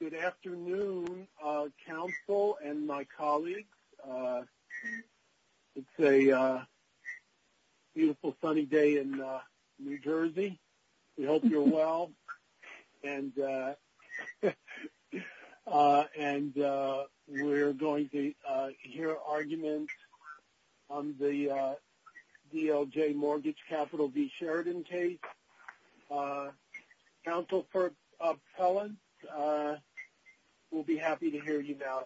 Good afternoon, Council and my colleagues. It's a beautiful sunny day in New Jersey. We hope you're well. And we're going to hear arguments on the DLJ Mortgage Capital v. Sheridan case. Council for Appellants, we'll be happy to hear you now.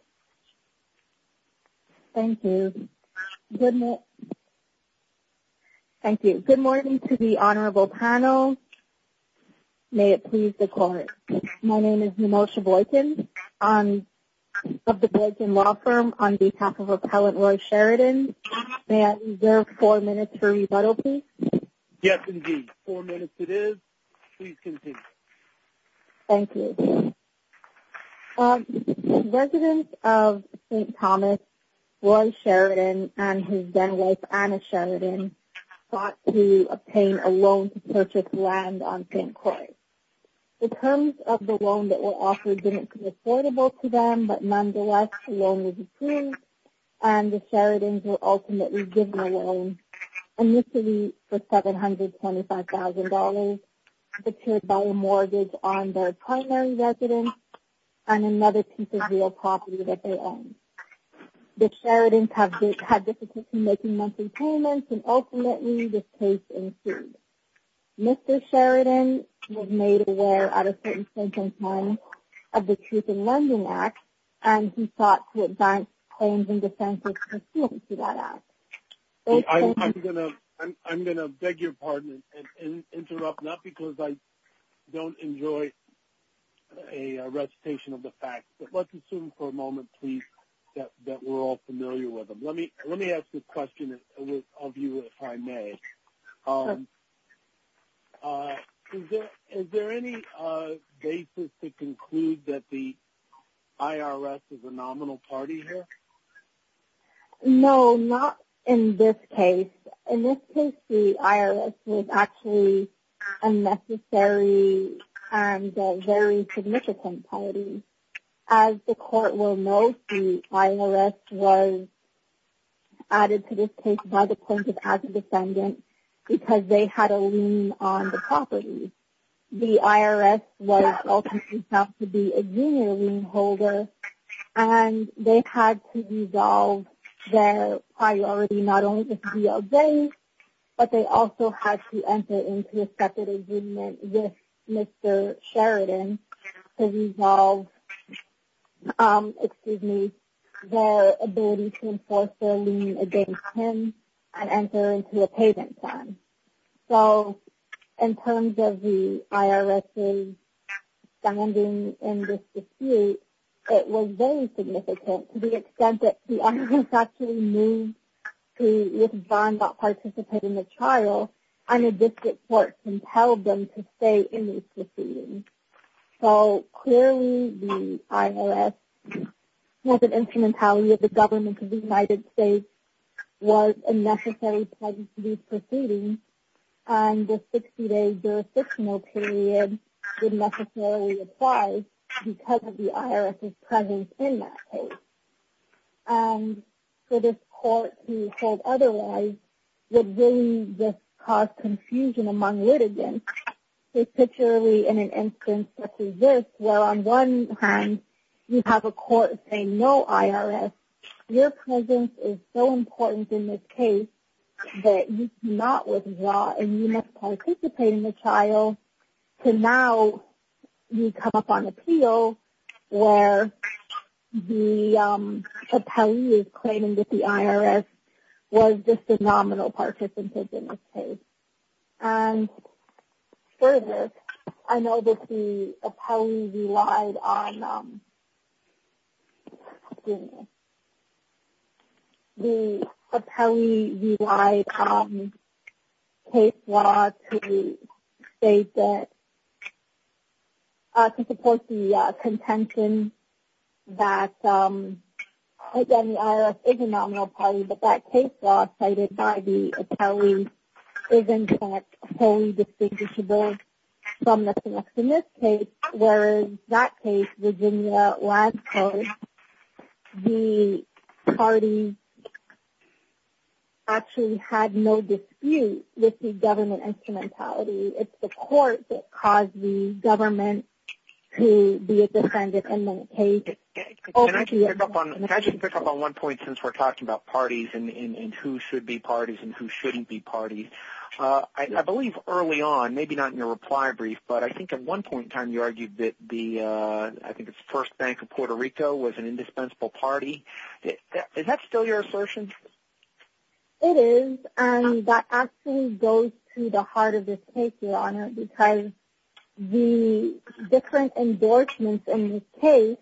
Thank you. Good morning to the honorable panel. May it please the Court. My name is Nemosha Boykin of the Boykin Law Firm on behalf of Appellant Lloyd Sheridan. May I reserve four minutes for rebuttal, please? Yes, indeed. Four minutes it is. Please continue. Thank you. The resident of St. Thomas, Lloyd Sheridan, and his then-wife, Anna Sheridan, sought to obtain a loan to purchase land on St. Croix. The terms of the loan that were offered didn't come affordable to them, but nonetheless, the loan was approved, and the Sheridans were ultimately given a loan, initially for $725,000, paid by a mortgage on their primary residence and another piece of real property that they owned. The Sheridans had difficulty making monthly payments, and ultimately, this case ensued. Mr. Sheridan was made aware at a certain point in time of the Truth in London Act, and he sought to advance claims and defenses pursuant to that Act. I'm going to beg your pardon and interrupt, not because I don't enjoy a recitation of the facts, but let's assume for a moment, please, that we're all familiar with them. Let me ask a question of you, if I may. Is there any basis to conclude that the IRS is a nominal party here? No, not in this case. In this case, the IRS was actually a necessary and a very significant party. As the court will know, the IRS was added to this case by the plaintiff as a defendant, because they had a lien on the property. The IRS was ultimately set up to be a junior lien holder, and they had to resolve their priority, not only with DLJ, but they also had to enter into a separate agreement with Mr. Sheridan to resolve their ability to enforce their lien against him and enter into a payment plan. So, in terms of the IRS's standing in this dispute, it was very significant to the extent that the IRS actually knew that with John not participating in the trial, and the district court compelled them to stay in this proceeding. So, clearly, the IRS was an instrumentality of the government of the United States, was a necessary part of this proceeding, and the 60-day jurisdictional period didn't necessarily apply because of the IRS's presence in that case. For this court to hold otherwise would really just cause confusion among litigants, particularly in an instance such as this, where on one hand, you have a court saying, no, IRS, your presence is so important in this case, that you cannot withdraw, and you must participate in the trial, to now come up on appeal, where the appellee is claiming that the IRS was just a nominal participant in this case. And, for this, I know that the appellee relied on case law to support the contention that, again, the IRS is a nominal party, but that case law cited by the appellee is, in fact, wholly distinguishable from the case in this case, where in that case, Virginia, last case, the party actually had no dispute with the government instrumentality. It's the court that caused the government to be a defendant in that case. And I can pick up on one point since we're talking about parties and who should be parties and who shouldn't be parties. I believe early on, maybe not in your reply brief, but I think at one point in time, you argued that the First Bank of Puerto Rico was an indispensable party. Is that still your assertion? It is, and that actually goes to the heart of this case, Your Honor, because the different endorsements in this case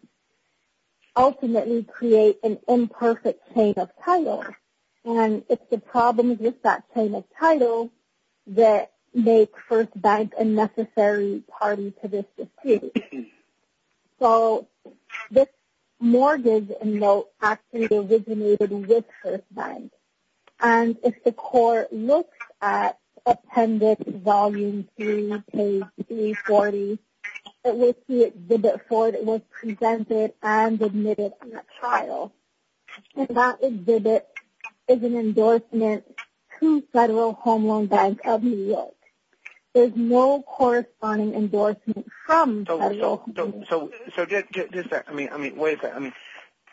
ultimately create an imperfect chain of title, and it's the problems with that chain of title that make First Bank a necessary party to this dispute. So this mortgage note actually originated with First Bank, and if the court looks at Appendix Volume 2, page 340, it looks at Exhibit 4 that was presented and admitted in that trial, and that exhibit is an endorsement to Federal Home Loan Bank of New York. There's no corresponding endorsement from Federal Home Loan Bank. So just that – I mean, wait a second.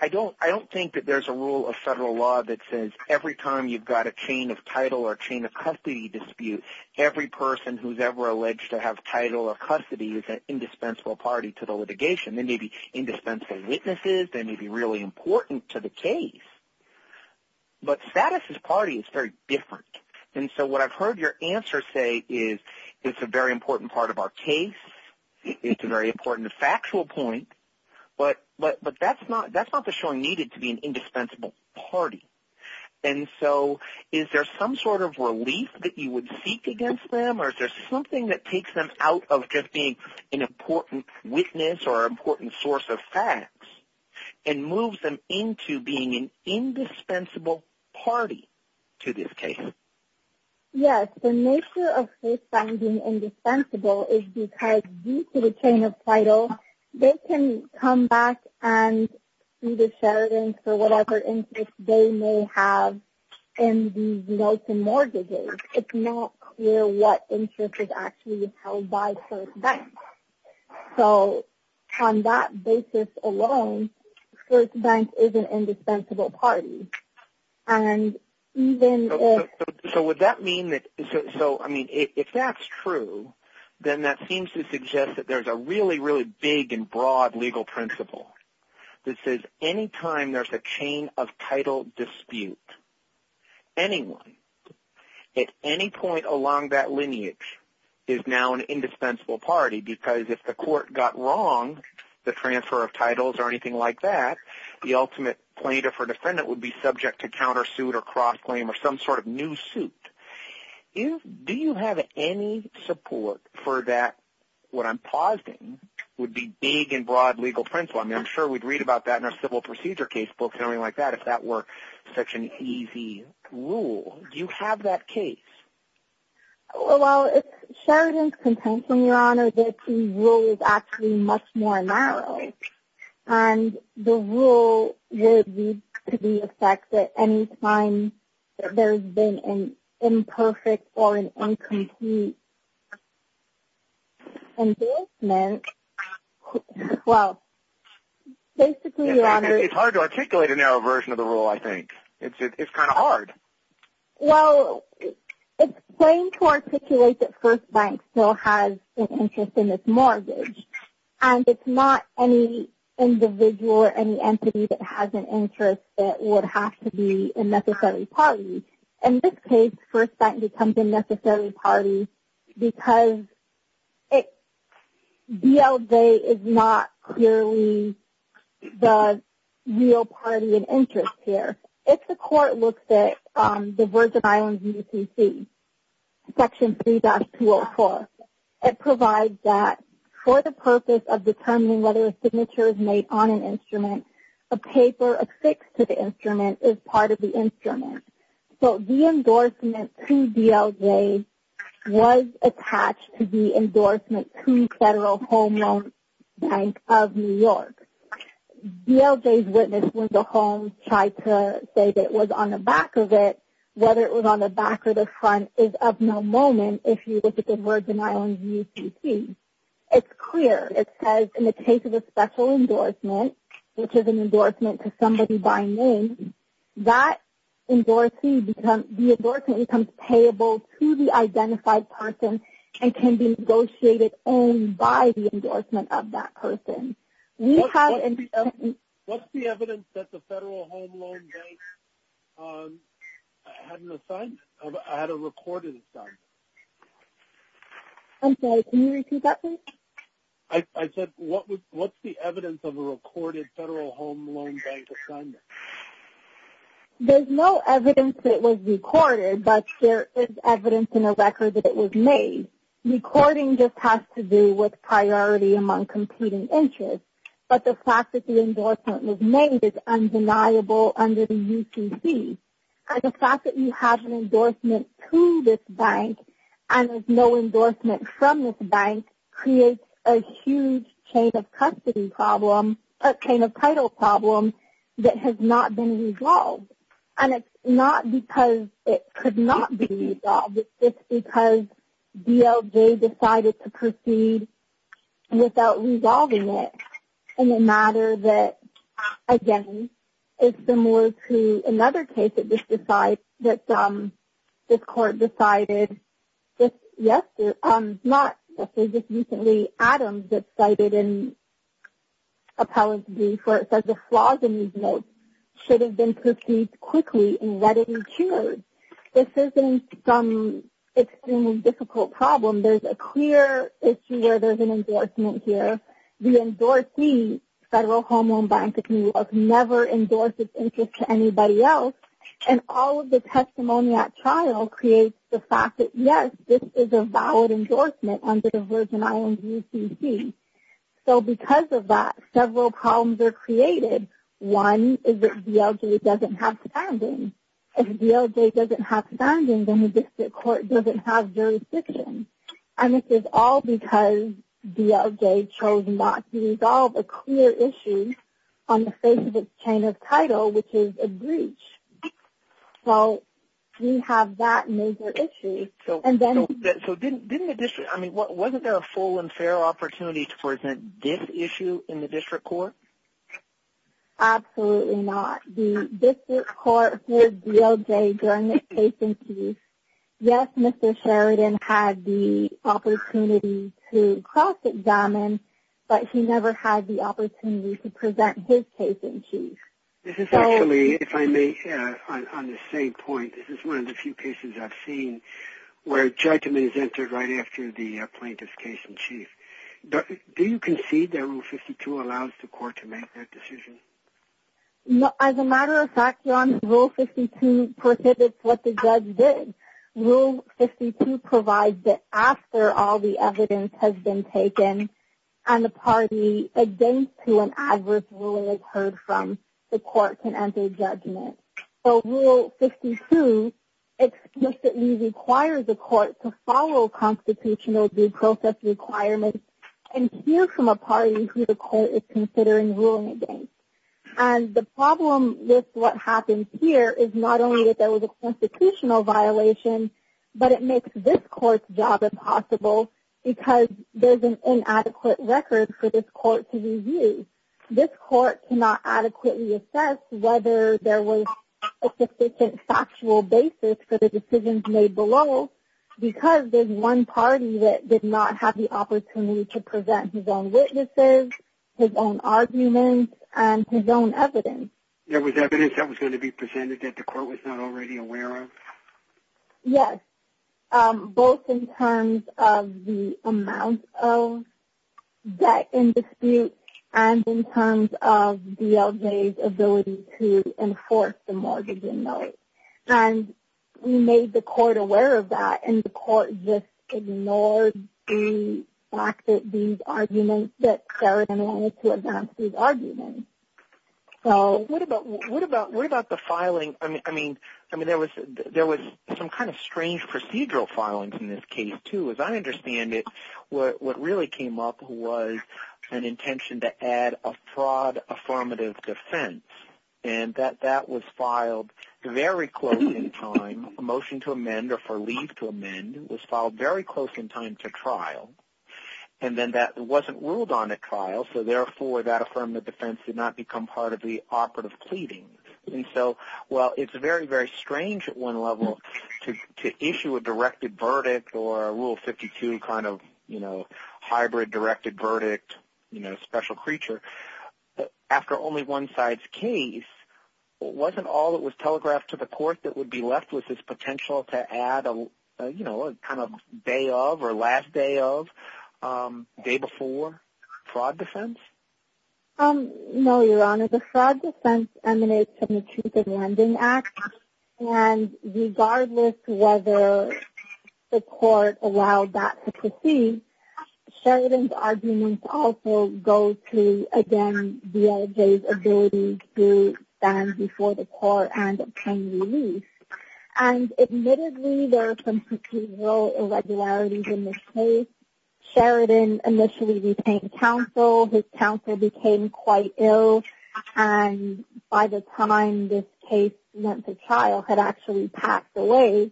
I don't think that there's a rule of federal law that says every time you've got a chain of title or a chain of custody dispute, every person who's ever alleged to have title or custody is an indispensable party to the litigation. They may be indispensable witnesses. They may be really important to the case, but status as party is very different. And so what I've heard your answer say is it's a very important part of our case. It's a very important factual point, but that's not the showing needed to be an indispensable party. And so is there some sort of relief that you would seek against them, or is there something that takes them out of just being an important witness or an important source of facts and moves them into being an indispensable party to this case? Yes. The nature of case finding indispensable is because due to the chain of title, they can come back and either share it in for whatever interest they may have in these notes and mortgages. It's not clear what interest is actually held by both banks. So on that basis alone, both banks is an indispensable party. So would that mean that – so, I mean, if that's true, then that seems to suggest that there's a really, really big and broad legal principle that says any time there's a chain of title dispute, anyone at any point along that lineage is now an indispensable party because if the court got wrong, the transfer of titles or anything like that, the ultimate plaintiff or defendant would be subject to countersuit or cross-claim or some sort of new suit. Do you have any support for that? What I'm pausing would be big and broad legal principle. I mean, I'm sure we'd read about that in our civil procedure case book or anything like that if that were such an easy rule. Do you have that case? Well, it's Sheridan's contempt, Your Honor, that the rule is actually much more narrow. And the rule would lead to the effect that any time there's been an imperfect or an incomplete investment, well, basically, Your Honor – It's hard to articulate a narrow version of the rule, I think. It's kind of hard. Well, it's plain to articulate that First Bank still has an interest in its mortgage. And it's not any individual or any entity that has an interest that would have to be a necessary party. In this case, First Bank becomes a necessary party because BLJ is not clearly the real party of interest here. If the court looks at the Virgin Islands UTC, Section 3-204, it provides that for the purpose of determining whether a signature is made on an instrument, a paper affixed to the instrument is part of the instrument. So the endorsement to BLJ was attached to the endorsement to Federal Home Loan Bank of New York. BLJ's witness when the homes tried to say that it was on the back of it, whether it was on the back or the front, is of no moment if you look at the Virgin Islands UTC. It's clear. It says, in the case of a special endorsement, which is an endorsement to somebody by name, that endorsement becomes payable to the identified person and can be negotiated only by the endorsement of that person. What's the evidence that the Federal Home Loan Bank had a record of this stuff? I'm sorry, can you repeat that, please? I said, what's the evidence of a recorded Federal Home Loan Bank assignment? There's no evidence that it was recorded, but there is evidence in the record that it was made. Recording just has to do with priority among competing interests. But the fact that the endorsement was made is undeniable under the UTC. The fact that you have an endorsement to this bank and there's no endorsement from this bank creates a huge chain of custody problem, a chain of title problem, that has not been resolved. And it's not because it could not be resolved. It's because BLJ decided to proceed without resolving it in a matter that, again, is similar to another case that this court decided, yes, not just recently, Adams that's cited in appellate brief where it says the flaws in these notes should have been proceeded quickly and readily cured. This isn't some extremely difficult problem. There's a clear issue where there's an endorsement here. The endorsee, Federal Home Loan Bank of New York, never endorsed its interest to anybody else. And all of the testimony at trial creates the fact that, yes, this is a valid endorsement under the Virgin Islands UTC. So because of that, several problems are created. One is that BLJ doesn't have standing. If BLJ doesn't have standing, then the district court doesn't have jurisdiction. And this is all because BLJ chose not to resolve a clear issue on the face of its chain of title, which is a breach. So we have that major issue. So didn't the district, I mean, wasn't there a full and fair opportunity to present this issue in the district court? Absolutely not. The district court heard BLJ during the case in case. Yes, Mr. Sheridan had the opportunity to cross examine, but he never had the opportunity to present his case in case. This is actually, if I may, on the same point, this is one of the few cases I've seen where judgment is entered right after the plaintiff's case in case. Do you concede that Rule 52 allows the court to make that decision? As a matter of fact, Ron, Rule 52 prohibits what the judge did. Rule 52 provides that after all the evidence has been taken and the party against whom an adverse ruling occurred from, the court can enter judgment. So Rule 52 explicitly requires the court to follow constitutional due process requirements and hear from a party who the court is considering ruling against. And the problem with what happens here is not only that there was a constitutional violation, but it makes this court's job impossible because there's an inadequate record for this court to review. This court cannot adequately assess whether there was a sufficient factual basis for the decisions made below because there's one party that did not have the opportunity to present his own witnesses, his own arguments, and his own evidence. There was evidence that was going to be presented that the court was not already aware of? Yes, both in terms of the amount of debt in dispute and in terms of DLJ's ability to enforce the mortgage inmate. And we made the court aware of that, and the court just ignored the fact that these arguments that Sarah then wanted to advance these arguments. What about the filing? I mean, there was some kind of strange procedural filings in this case, too. As I understand it, what really came up was an intention to add a fraud affirmative defense, and that that was filed very close in time. A motion to amend or for leave to amend was filed very close in time to trial. And then that wasn't ruled on at trial, so therefore that affirmative defense did not become part of the operative pleading. And so while it's very, very strange at one level to issue a directed verdict or a Rule 52 kind of hybrid directed verdict, after only one side's case, wasn't all that was telegraphed to the court that would be left with this potential to add a kind of day of or last day of, day before, fraud defense? No, Your Honor, the fraud defense emanates from the Truth in Lending Act, and regardless whether the court allowed that to proceed, Sheridan's arguments also go to, again, BLJ's ability to stand before the court and obtain release. And admittedly, there are some procedural irregularities in this case. Sheridan initially retained counsel. His counsel became quite ill, and by the time this case went to trial, had actually passed away.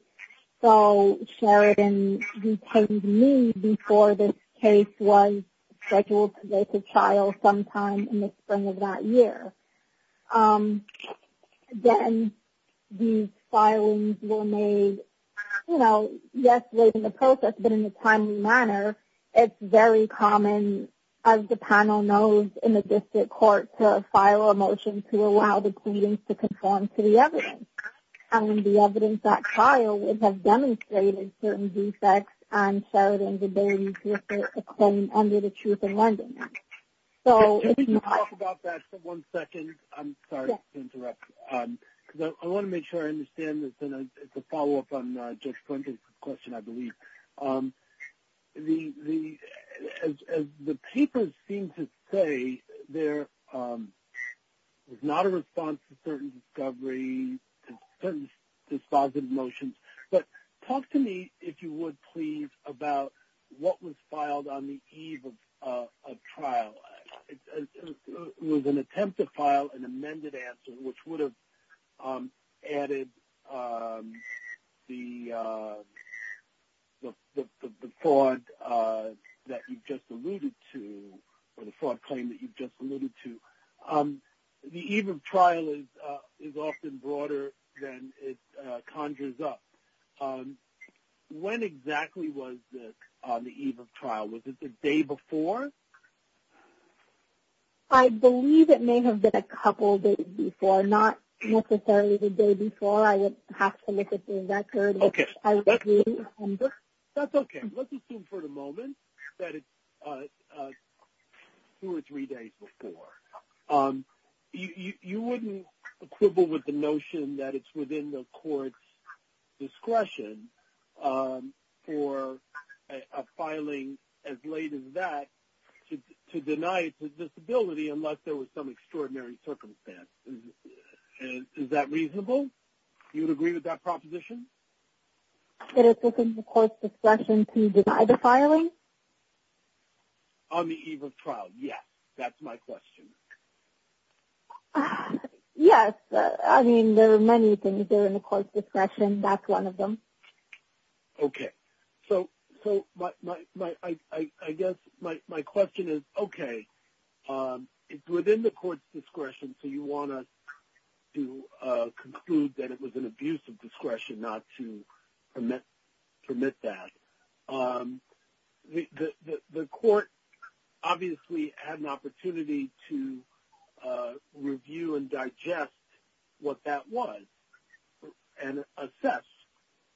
So Sheridan retained me before this case was scheduled to go to trial sometime in the spring of that year. Then these filings were made, you know, yes, late in the process, but in a timely manner. It's very common, as the panel knows, in the district court to file a motion to allow the pleadings to conform to the evidence. And the evidence that filed would have demonstrated certain defects on Sheridan's ability to defend under the Truth in Lending Act. Can we talk about that for one second? I'm sorry to interrupt you. I want to make sure I understand this, and it's a follow-up on Jeff's question, I believe. As the papers seem to say, there was not a response to certain discoveries, certain dispositive motions. But talk to me, if you would, please, about what was filed on the eve of trial. It was an attempt to file an amended answer, which would have added the fraud that you just alluded to, or the fraud claim that you just alluded to. The eve of trial is often broader than it conjures up. When exactly was the eve of trial? Was it the day before? I believe it may have been a couple days before, not necessarily the day before. I would have to look at the record. Okay. That's okay. Let's assume for the moment that it's two or three days before. You wouldn't quibble with the notion that it's within the court's discretion for a filing as late as that to deny a disability unless there was some extraordinary circumstance. Is that reasonable? You would agree with that proposition? That it's within the court's discretion to deny the filing? On the eve of trial, yes. That's my question. Yes. I mean, there are many things that are in the court's discretion. That's one of them. Okay. So I guess my question is, okay, it's within the court's discretion, so you want to conclude that it was an abuse of discretion not to permit that. The court obviously had an opportunity to review and digest what that was and assess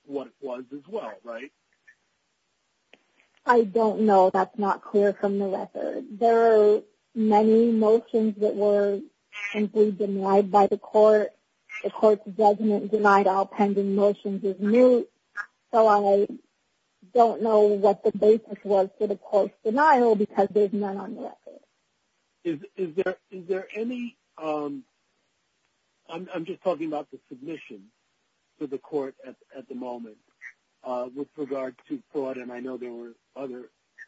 what it was as well, right? I don't know. That's not clear from the record. There are many motions that were simply denied by the court. The court doesn't deny all pending motions as new. So I don't know what the basis was for the court's denial because there's none on the record. Is there any ‑‑ I'm just talking about the submission to the court at the moment with regard to fraud, and I know there was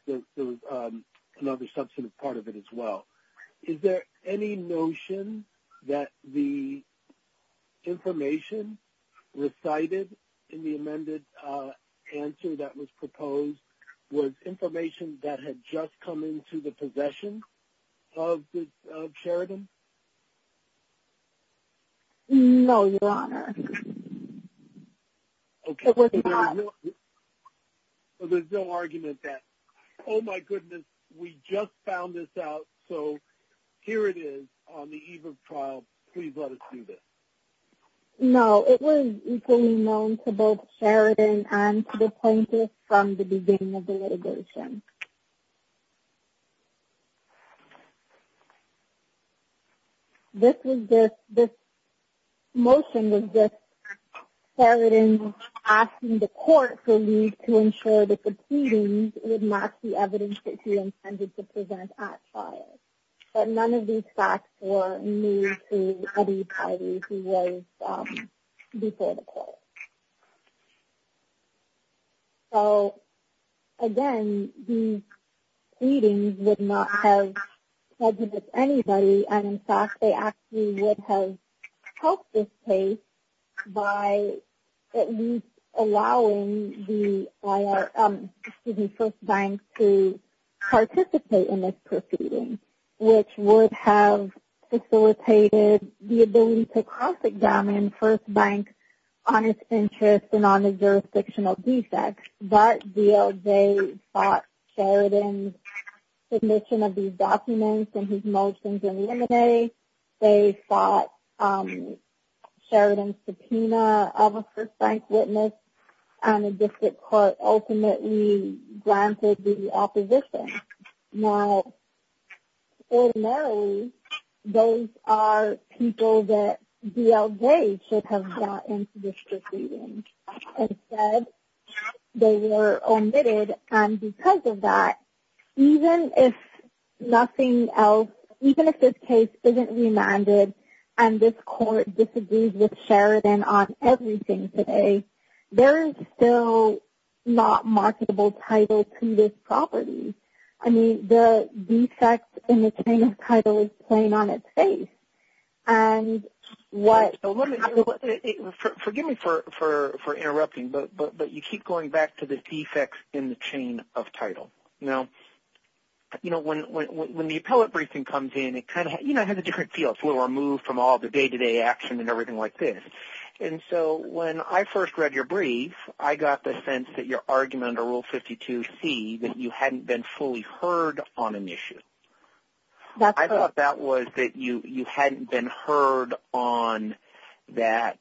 another substantive part of it as well. Is there any notion that the information recited in the amended answer that was proposed was information that had just come into the possession of this charity? No, Your Honor. It was not. There's no argument that, oh, my goodness, we just found this out, so here it is on the EBRB trial. Please let us see this. No, it was equally known to both Sheridan and to the plaintiff from the beginning of the litigation. This was just ‑‑ this motion was just Sheridan asking the court for leave to ensure that the proceedings would not see evidence that he intended to present at trial. But none of these facts were new to Eddie Heidi, who was before the court. So, again, these proceedings would not have prejudice anybody, and, in fact, they actually would have helped this case by at least allowing the first bank to participate in this proceeding, which would have facilitated the ability to confiscate First Bank on its interest and on the jurisdiction of DSEC. That deal, they sought Sheridan's submission of these documents and his motions in the M&A. They sought Sheridan's subpoena of a First Bank witness, and the district court ultimately granted the opposition. Now, ordinarily, those are people that DLJ should have gotten to this proceeding. Instead, they were omitted, and because of that, even if nothing else, even if this case isn't remanded and this court disagrees with Sheridan on everything today, there is still not marketable title to this property. I mean, the defects in the chain of title is playing on its face, and what – Forgive me for interrupting, but you keep going back to the defects in the chain of title. Now, you know, when the appellate briefing comes in, it kind of – you know, it has a different feel. It's a little removed from all the day-to-day action and everything like this. And so when I first read your brief, I got the sense that your argument under Rule 52C, that you hadn't been fully heard on an issue. I thought that was that you hadn't been heard on that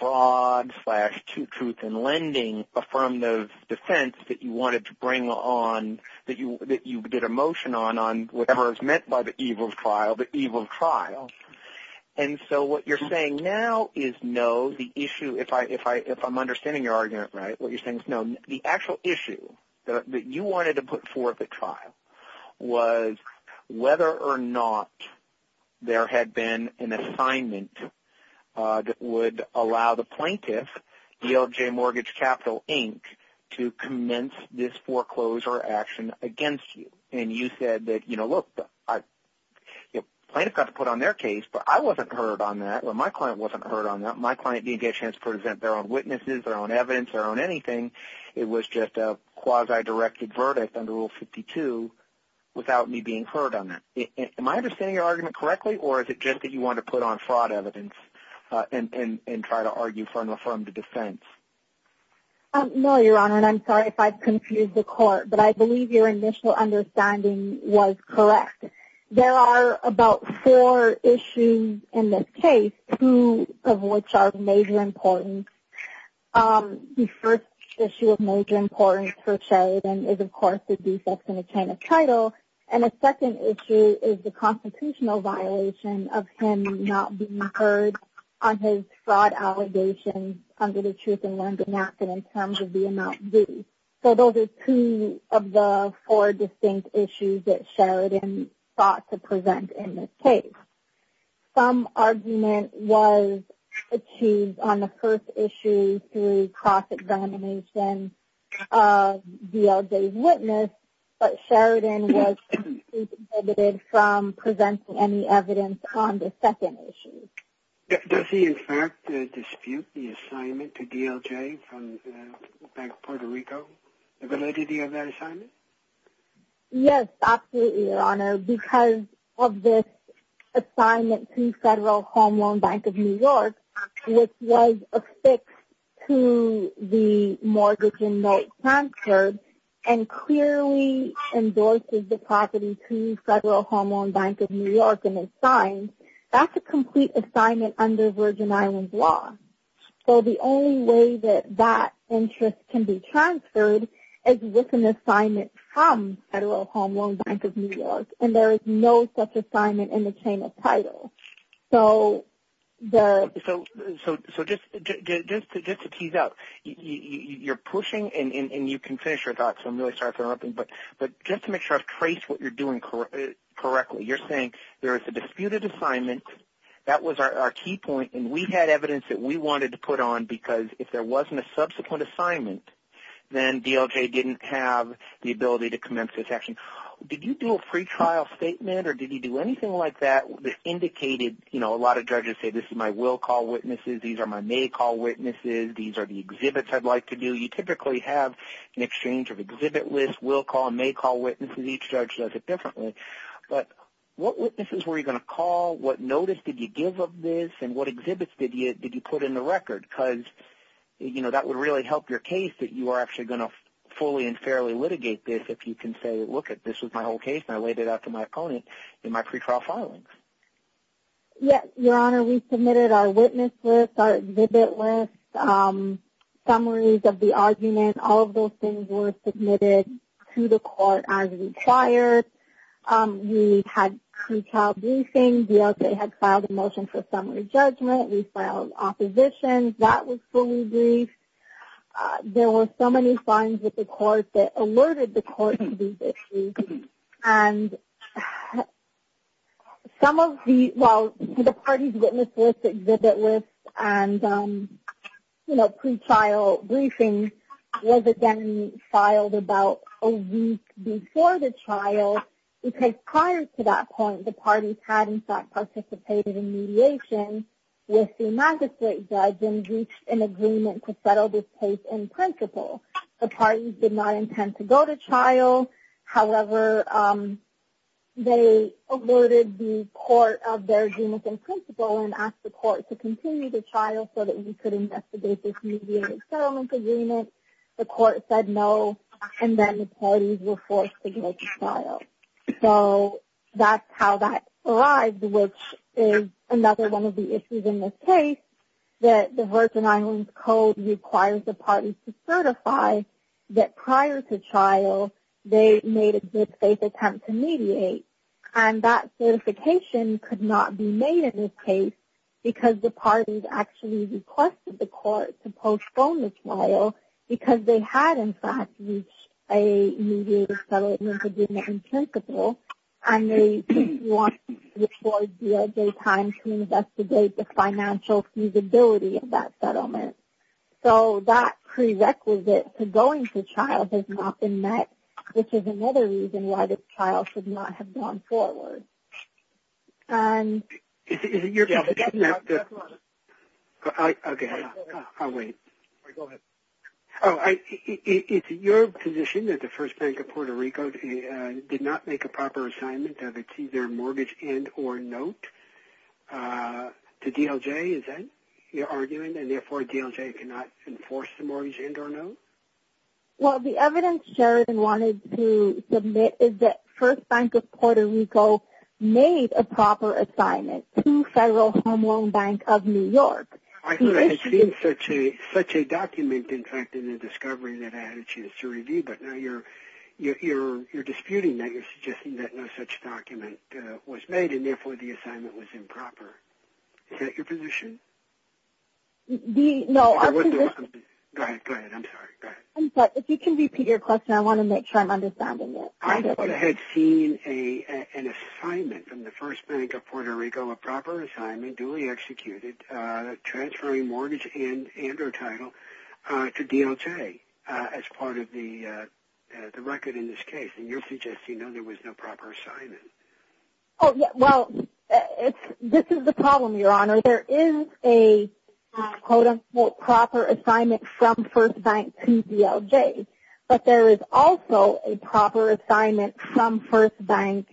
fraud-slash-truth-in-lending affirmative defense that you wanted to bring on, that you did a motion on, on whatever is meant by the evil of trial, the evil of trial. And so what you're saying now is no, the issue – if I'm understanding your argument right, what you're saying is no. The actual issue that you wanted to put forth at trial was whether or not there had been an assignment that would allow the plaintiff, DLJ Mortgage Capital, Inc., to commence this foreclosure action against you. And you said that, you know, look, the plaintiff got to put on their case, but I wasn't heard on that, or my client wasn't heard on that. My client, DLJ Mortgage Capital, Inc., they're on witnesses, they're on evidence, they're on anything. It was just a quasi-directed verdict under Rule 52 without me being heard on that. Am I understanding your argument correctly, or is it just that you wanted to put on fraud evidence and try to argue from affirmative defense? No, Your Honor, and I'm sorry if I've confused the court, but I believe your initial understanding was correct. There are about four issues in this case, two of which are of major importance. The first issue of major importance for Sheridan is, of course, the defects in the tenant title. And the second issue is the constitutional violation of him not being heard on his fraud allegations under the Truth in London Act and in terms of the amount due. So those are two of the four distinct issues that Sheridan sought to present in this case. Some argument was achieved on the first issue through cross-examination of DLJ's witness, but Sheridan was completely prohibited from presenting any evidence on the second issue. Does he, in fact, dispute the assignment to DLJ from Bank Puerto Rico, the validity of that assignment? Yes, absolutely, Your Honor, because of this assignment to Federal Home Loan Bank of New York, which was affixed to the mortgage inmate transferred and clearly endorses the property to Federal Home Loan Bank of New York and is signed, that's a complete assignment under Virgin Islands law. So the only way that that interest can be transferred is with an assignment from Federal Home Loan Bank of New York, and there is no such assignment in the tenant title. So just to tease out, you're pushing, and you can finish your thoughts, so I'm really sorry if I'm interrupting, but just to make sure I've traced what you're doing correctly, you're saying there is a disputed assignment, that was our key point, and we had evidence that we wanted to put on because if there wasn't a subsequent assignment, then DLJ didn't have the ability to commence this action. Did you do a free trial statement or did you do anything like that that indicated, you know, a lot of judges say this is my will call witnesses, these are my may call witnesses, these are the exhibits I'd like to do? You typically have an exchange of exhibit lists, will call and may call witnesses, each judge does it differently, but what witnesses were you going to call, what notice did you give of this, and what exhibits did you put in the record? Because, you know, that would really help your case that you are actually going to fully and fairly litigate this if you can say, lookit, this was my whole case and I laid it out to my opponent in my free trial filing. Yes, Your Honor, we submitted our witness list, our exhibit list, summaries of the argument, all of those things were submitted to the court as required. We had pre-trial briefings, DLJ had filed a motion for summary judgment, we filed opposition, that was fully briefed. There were so many signs with the court that alerted the court to these issues. And some of the, well, the parties' witness lists, exhibit lists, and pre-trial briefings was again filed about a week before the trial, because prior to that point the parties had in fact participated in mediation with the magistrate judge and reached an agreement to settle this case in principle. The parties did not intend to go to trial, however, they alerted the court of their agreement in principle and asked the court to continue the trial so that we could investigate this mediated settlement agreement. The court said no, and then the parties were forced to make a trial. So that's how that arrived, which is another one of the issues in this case, that the Virgin Islands Code requires the parties to certify that prior to trial they made a good faith attempt to mediate. And that certification could not be made in this case because the parties actually requested the court to postpone the trial because they had in fact reached a mediated settlement agreement in principle and they wanted to afford their time to investigate the financial feasibility of that settlement. So that prerequisite to going to trial has not been met, which is another reason why this trial should not have gone forward. Is it your position that the First Bank of Puerto Rico did not make a proper assignment of its either mortgage and or note to DLJ? Is that what you're arguing, and therefore DLJ cannot enforce the mortgage and or note? Well, the evidence Sheridan wanted to submit is that First Bank of Puerto Rico made a proper assignment to Federal Home Loan Bank of New York. I thought I had seen such a document in fact in the discovery that I had a chance to review, but now you're disputing that, you're suggesting that no such document was made and therefore the assignment was improper. Is that your position? No, our position... Go ahead, go ahead, I'm sorry, go ahead. I'm sorry, if you can repeat your question, I want to make sure I'm understanding it. I thought I had seen an assignment from the First Bank of Puerto Rico, a proper assignment, duly executed, transferring mortgage and or title to DLJ as part of the record in this case, and you're suggesting that there was no proper assignment. Well, this is the problem, Your Honor. There is a quote-unquote proper assignment from First Bank to DLJ, but there is also a proper assignment from First Bank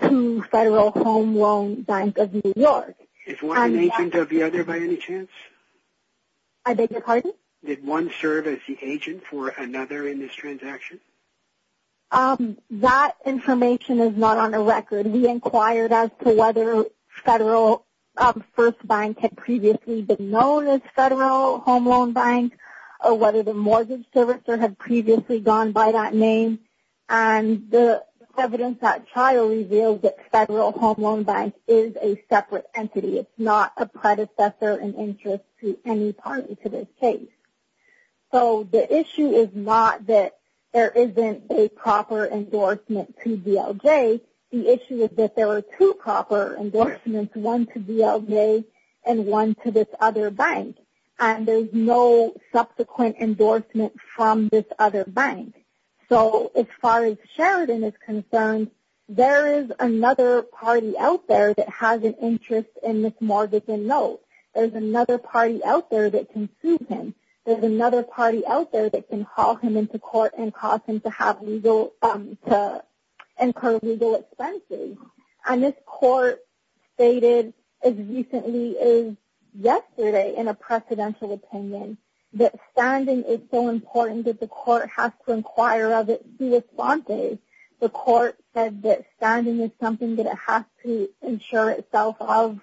to Federal Home Loan Bank of New York. Is one an agent of the other by any chance? I beg your pardon? Did one serve as the agent for another in this transaction? That information is not on the record. We inquired as to whether Federal First Bank had previously been known as Federal Home Loan Bank or whether the mortgage servicer had previously gone by that name, and the evidence at trial revealed that Federal Home Loan Bank is a separate entity. It's not a predecessor in interest to any party to this case. So the issue is not that there isn't a proper endorsement to DLJ. The issue is that there are two proper endorsements, one to DLJ and one to this other bank, and there's no subsequent endorsement from this other bank. So as far as Sheridan is concerned, there is another party out there that has an interest in Miss Morgan's notes. There's another party out there that can sue him. There's another party out there that can call him into court and cause him to incur legal expenses. And this court stated as recently as yesterday in a precedential opinion that standing is so important that the court has to inquire of it. He responded. The court said that standing is something that it has to insure itself of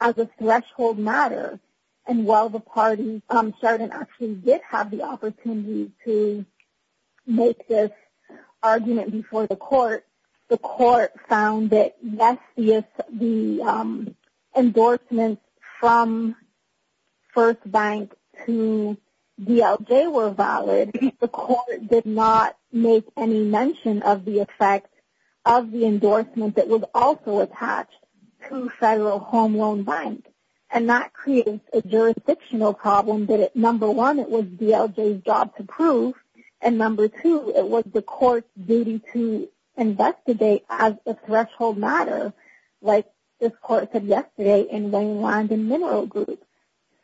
as a threshold matter. And while the party, Sheridan, actually did have the opportunity to make this argument before the court, the court found that, yes, the endorsements from First Bank to DLJ were valid. The court did not make any mention of the effect of the endorsement that was also attached to Federal Home Loan Bank. And that created a jurisdictional problem that, number one, it was DLJ's job to prove, and number two, it was the court's duty to investigate as a threshold matter, like this court said yesterday in the land and mineral group.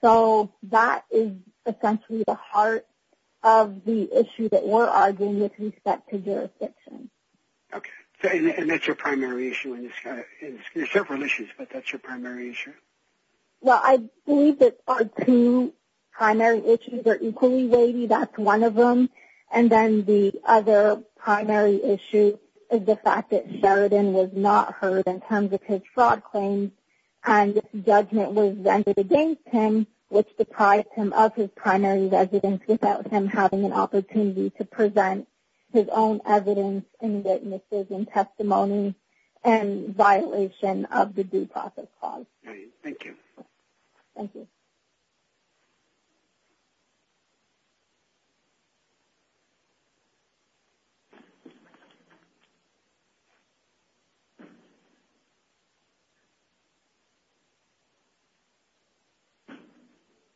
So that is essentially the heart of the issue that we're arguing with respect to jurisdiction. Okay. And that's your primary issue. There's several issues, but that's your primary issue. Well, I believe that our two primary issues are equally weighty. That's one of them. And then the other primary issue is the fact that Sheridan was not heard in terms of his fraud claims and his judgment was vented against him, which deprived him of his primary evidence without him having an opportunity to present his own evidence and witnesses and testimony in violation of the due process clause. Great. Thank you. Thank you.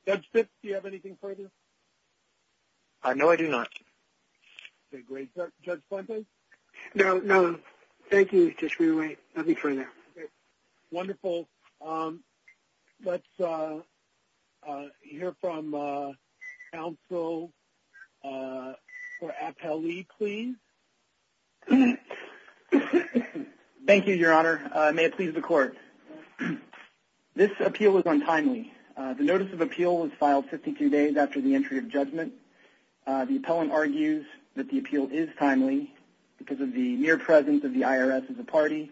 Judge Fitz, do you have anything further? No, I do not. Okay, great. Judge Fuentes? No, no. Thank you. Just give me a minute. I'll be right there. Wonderful. Let's hear from counsel or appellee, please. This appeal is untimely. The notice of appeal was filed 52 days after the entry of judgment. The appellant argues that the appeal is timely because of the mere presence of the IRS as a party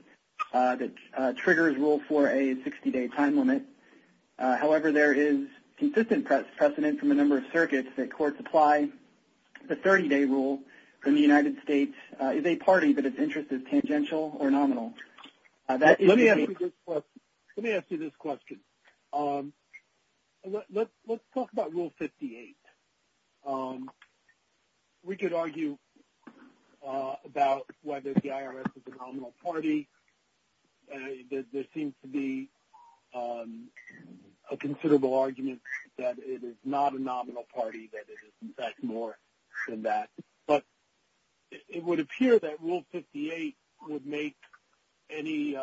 that triggers rule 4A's 60-day time limit. However, there is consistent precedent from a number of circuits that courts apply the 30-day rule when the United States is a party that its interest is tangential or nominal. Let me ask you this question. Let's talk about Rule 58. We could argue about whether the IRS is a nominal party. There seems to be a considerable argument that it is not a nominal party, that it is, in fact, more than that. But it would appear that Rule 58 would make any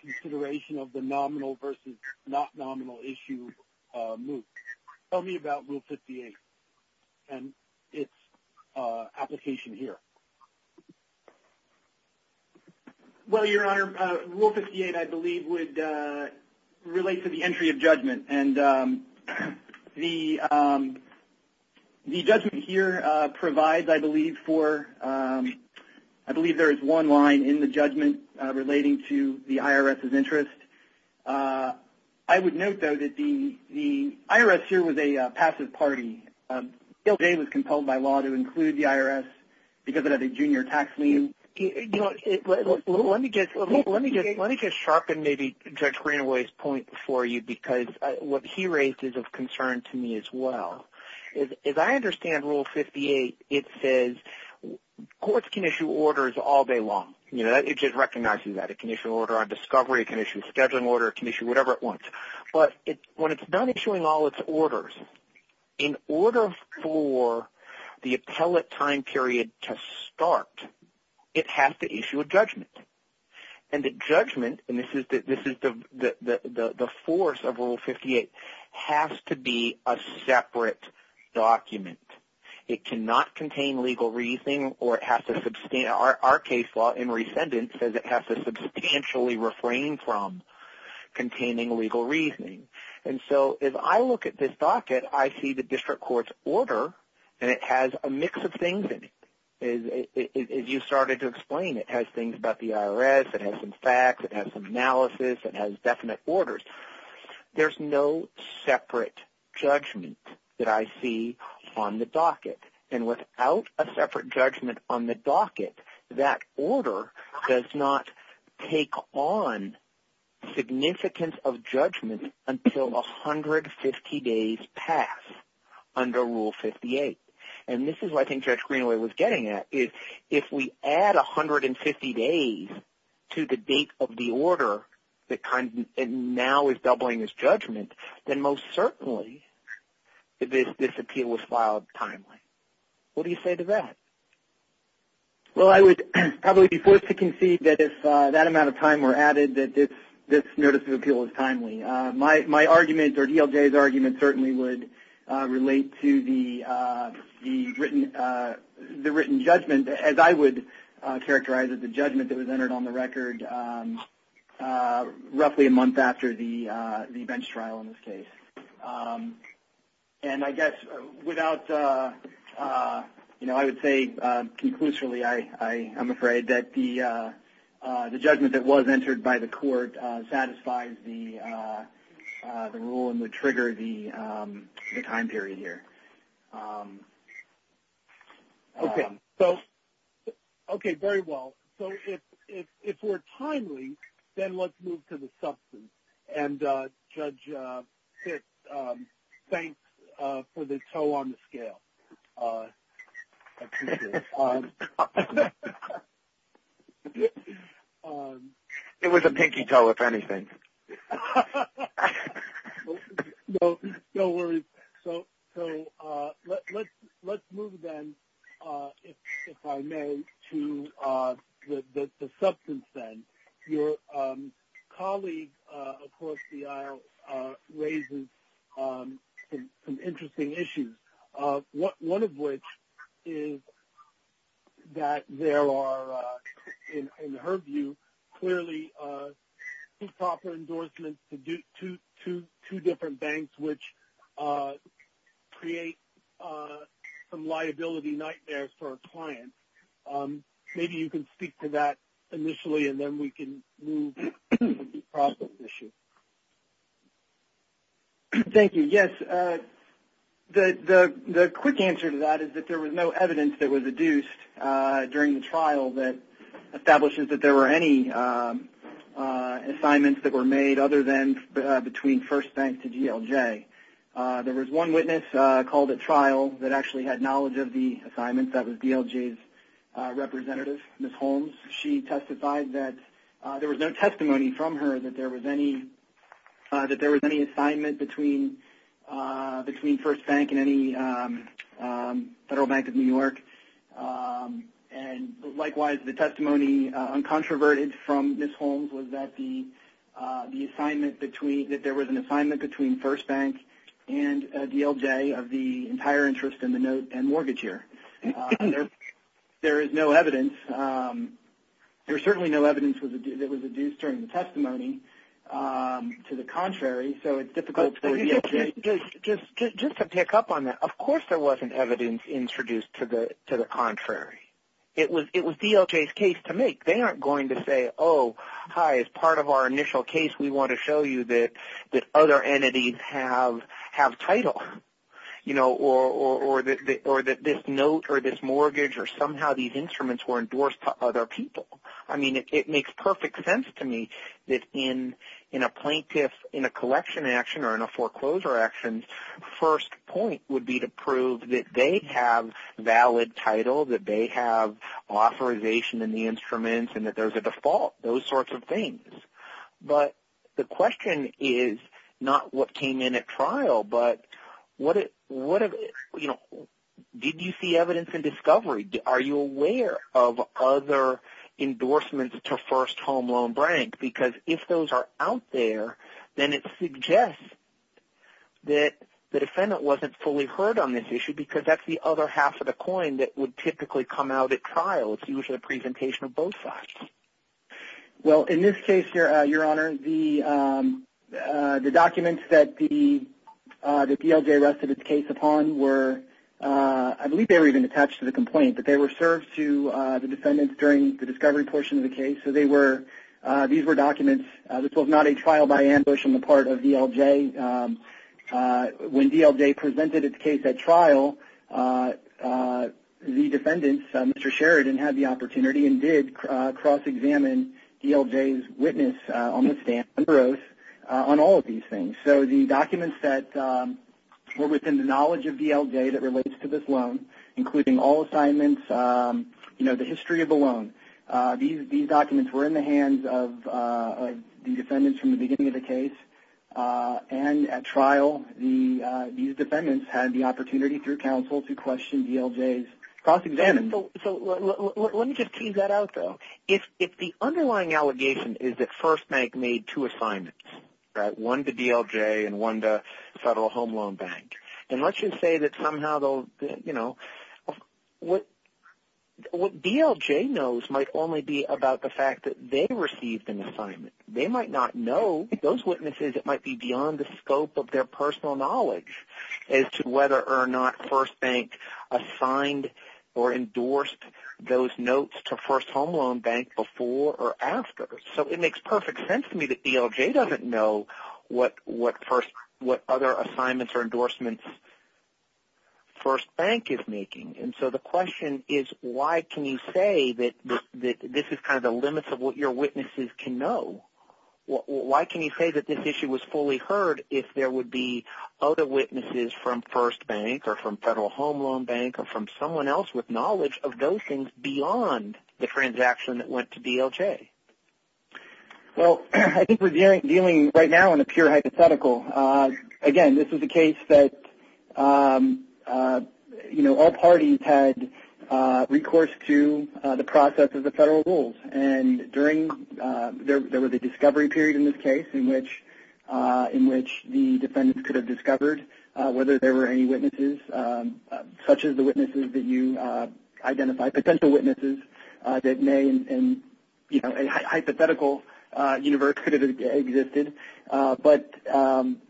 consideration of the nominal versus not nominal issue move. Tell me about Rule 58 and its application here. Well, Your Honor, Rule 58, I believe, would relate to the entry of judgment. And the judgment here provides, I believe, for one line in the judgment relating to the IRS's interest. I would note, though, that the IRS here was a passive party. Bill Day was compelled by law to include the IRS because of a junior tax lien. Let me just sharpen Judge Greenaway's point for you because what he raised is of concern to me as well. As I understand Rule 58, it says courts can issue orders all day long. It just recognizes that. It can issue an order on discovery. It can issue a scheduling order. It can issue whatever it wants. But when it's done issuing all its orders, in order for the appellate time period to start, it has to issue a judgment. And the judgment – and this is the force of Rule 58 – has to be a separate document. It cannot contain legal reasoning or it has to – our case law in resendence says it has to substantially refrain from containing legal reasoning. And so as I look at this docket, I see the district court's order, and it has a mix of things in it. As you started to explain, it has things about the IRS. It has some facts. It has some analysis. It has definite orders. There's no separate judgment that I see on the docket. And without a separate judgment on the docket, that order does not take on significance of judgment until 150 days pass under Rule 58. And this is what I think Judge Greenaway was getting at. If we add 150 days to the date of the order and now it's doubling its judgment, then most certainly this appeal was filed timely. What do you say to that? Well, I would probably be forced to concede that if that amount of time were added, that this notice of appeal is timely. My argument, or DLJ's argument, certainly would relate to the written judgment, as I would characterize it, the judgment that was entered on the record roughly a month after the bench trial in this case. And I guess without, you know, I would say conclusively I'm afraid that the judgment that was entered by the court satisfies the rule and would trigger the time period here. Okay. So, okay, very well. So if we're timely, then let's move to the substance. And Judge Fitz, thanks for the toe on the scale. It was a pinky toe, if anything. No worries. So let's move then, if I may, to the substance then. Your colleague across the aisle raises some interesting issues, one of which is that there are, in her view, clearly two proper endorsements to two different banks, which creates some liability nightmares for a client. Maybe you can speak to that initially, and then we can move to the process issue. Thank you. Yes. The quick answer to that is that there was no evidence that was adduced during the trial that establishes that there were any assignments that were made other than between First Bank to DLJ. There was one witness called at trial that actually had knowledge of the assignments. That was DLJ's representative, Ms. Holmes. She testified that there was no testimony from her that there was any assignment between First Bank and any Federal Bank of New York. And likewise, the testimony, uncontroverted from Ms. Holmes, was that there was an assignment between First Bank and DLJ of the entire interest in the note and mortgage here. There is no evidence. There's certainly no evidence that was adduced during the testimony. To the contrary, so it's difficult for DLJ. Just to pick up on that, of course there wasn't evidence introduced to the contrary. It was DLJ's case to make. They aren't going to say, oh, hi, as part of our initial case, we want to show you that other entities have title or that this note or this mortgage or somehow these instruments were endorsed to other people. I mean, it makes perfect sense to me that in a plaintiff, in a collection action or in a foreclosure action, first point would be to prove that they have valid title, that they have authorization in the instruments and that there's a default, those sorts of things. But the question is not what came in at trial, but did you see evidence in discovery? Are you aware of other endorsements to First Home Loan Bank? Because if those are out there, then it suggests that the defendant wasn't fully heard on this issue because that's the other half of the coin that would typically come out at trial. It's usually a presentation of both sides. Well, in this case, Your Honor, the documents that DLJ rested its case upon were, I believe they were even attached to the complaint, but they were served to the defendants during the discovery portion of the case. So these were documents. This was not a trial by ambush on the part of DLJ. When DLJ presented its case at trial, the defendants, Mr. Sheridan, had the opportunity and did cross-examine DLJ's witness on the stand on all of these things. So the documents that were within the knowledge of DLJ that relates to this loan, including all assignments, the history of the loan, these documents were in the hands of the defendants from the beginning of the case. And at trial, these defendants had the opportunity through counsel to question DLJ's cross-examination. So let me just tease that out, though. If the underlying allegation is that First Bank made two assignments, right, one to DLJ and one to Federal Home Loan Bank, and let's just say that somehow they'll, you know, what DLJ knows might only be about the fact that they received an assignment. They might not know. Those witnesses, it might be beyond the scope of their personal knowledge as to whether or not First Bank assigned or endorsed those notes to First Home Loan Bank before or after. So it makes perfect sense to me that DLJ doesn't know what other assignments or endorsements First Bank is making. And so the question is, why can you say that this is kind of the limits of what your witnesses can know? Why can you say that this issue was fully heard if there would be other witnesses from First Bank or from Federal Home Loan Bank or from someone else with knowledge of those things beyond the transaction that went to DLJ? Well, I think we're dealing right now in a pure hypothetical. Again, this is a case that, you know, all parties had recourse to the process of the federal rules. And there was a discovery period in this case in which the defendants could have discovered whether there were any witnesses such as the witnesses that you identified, potential witnesses that may in a hypothetical universe could have existed. But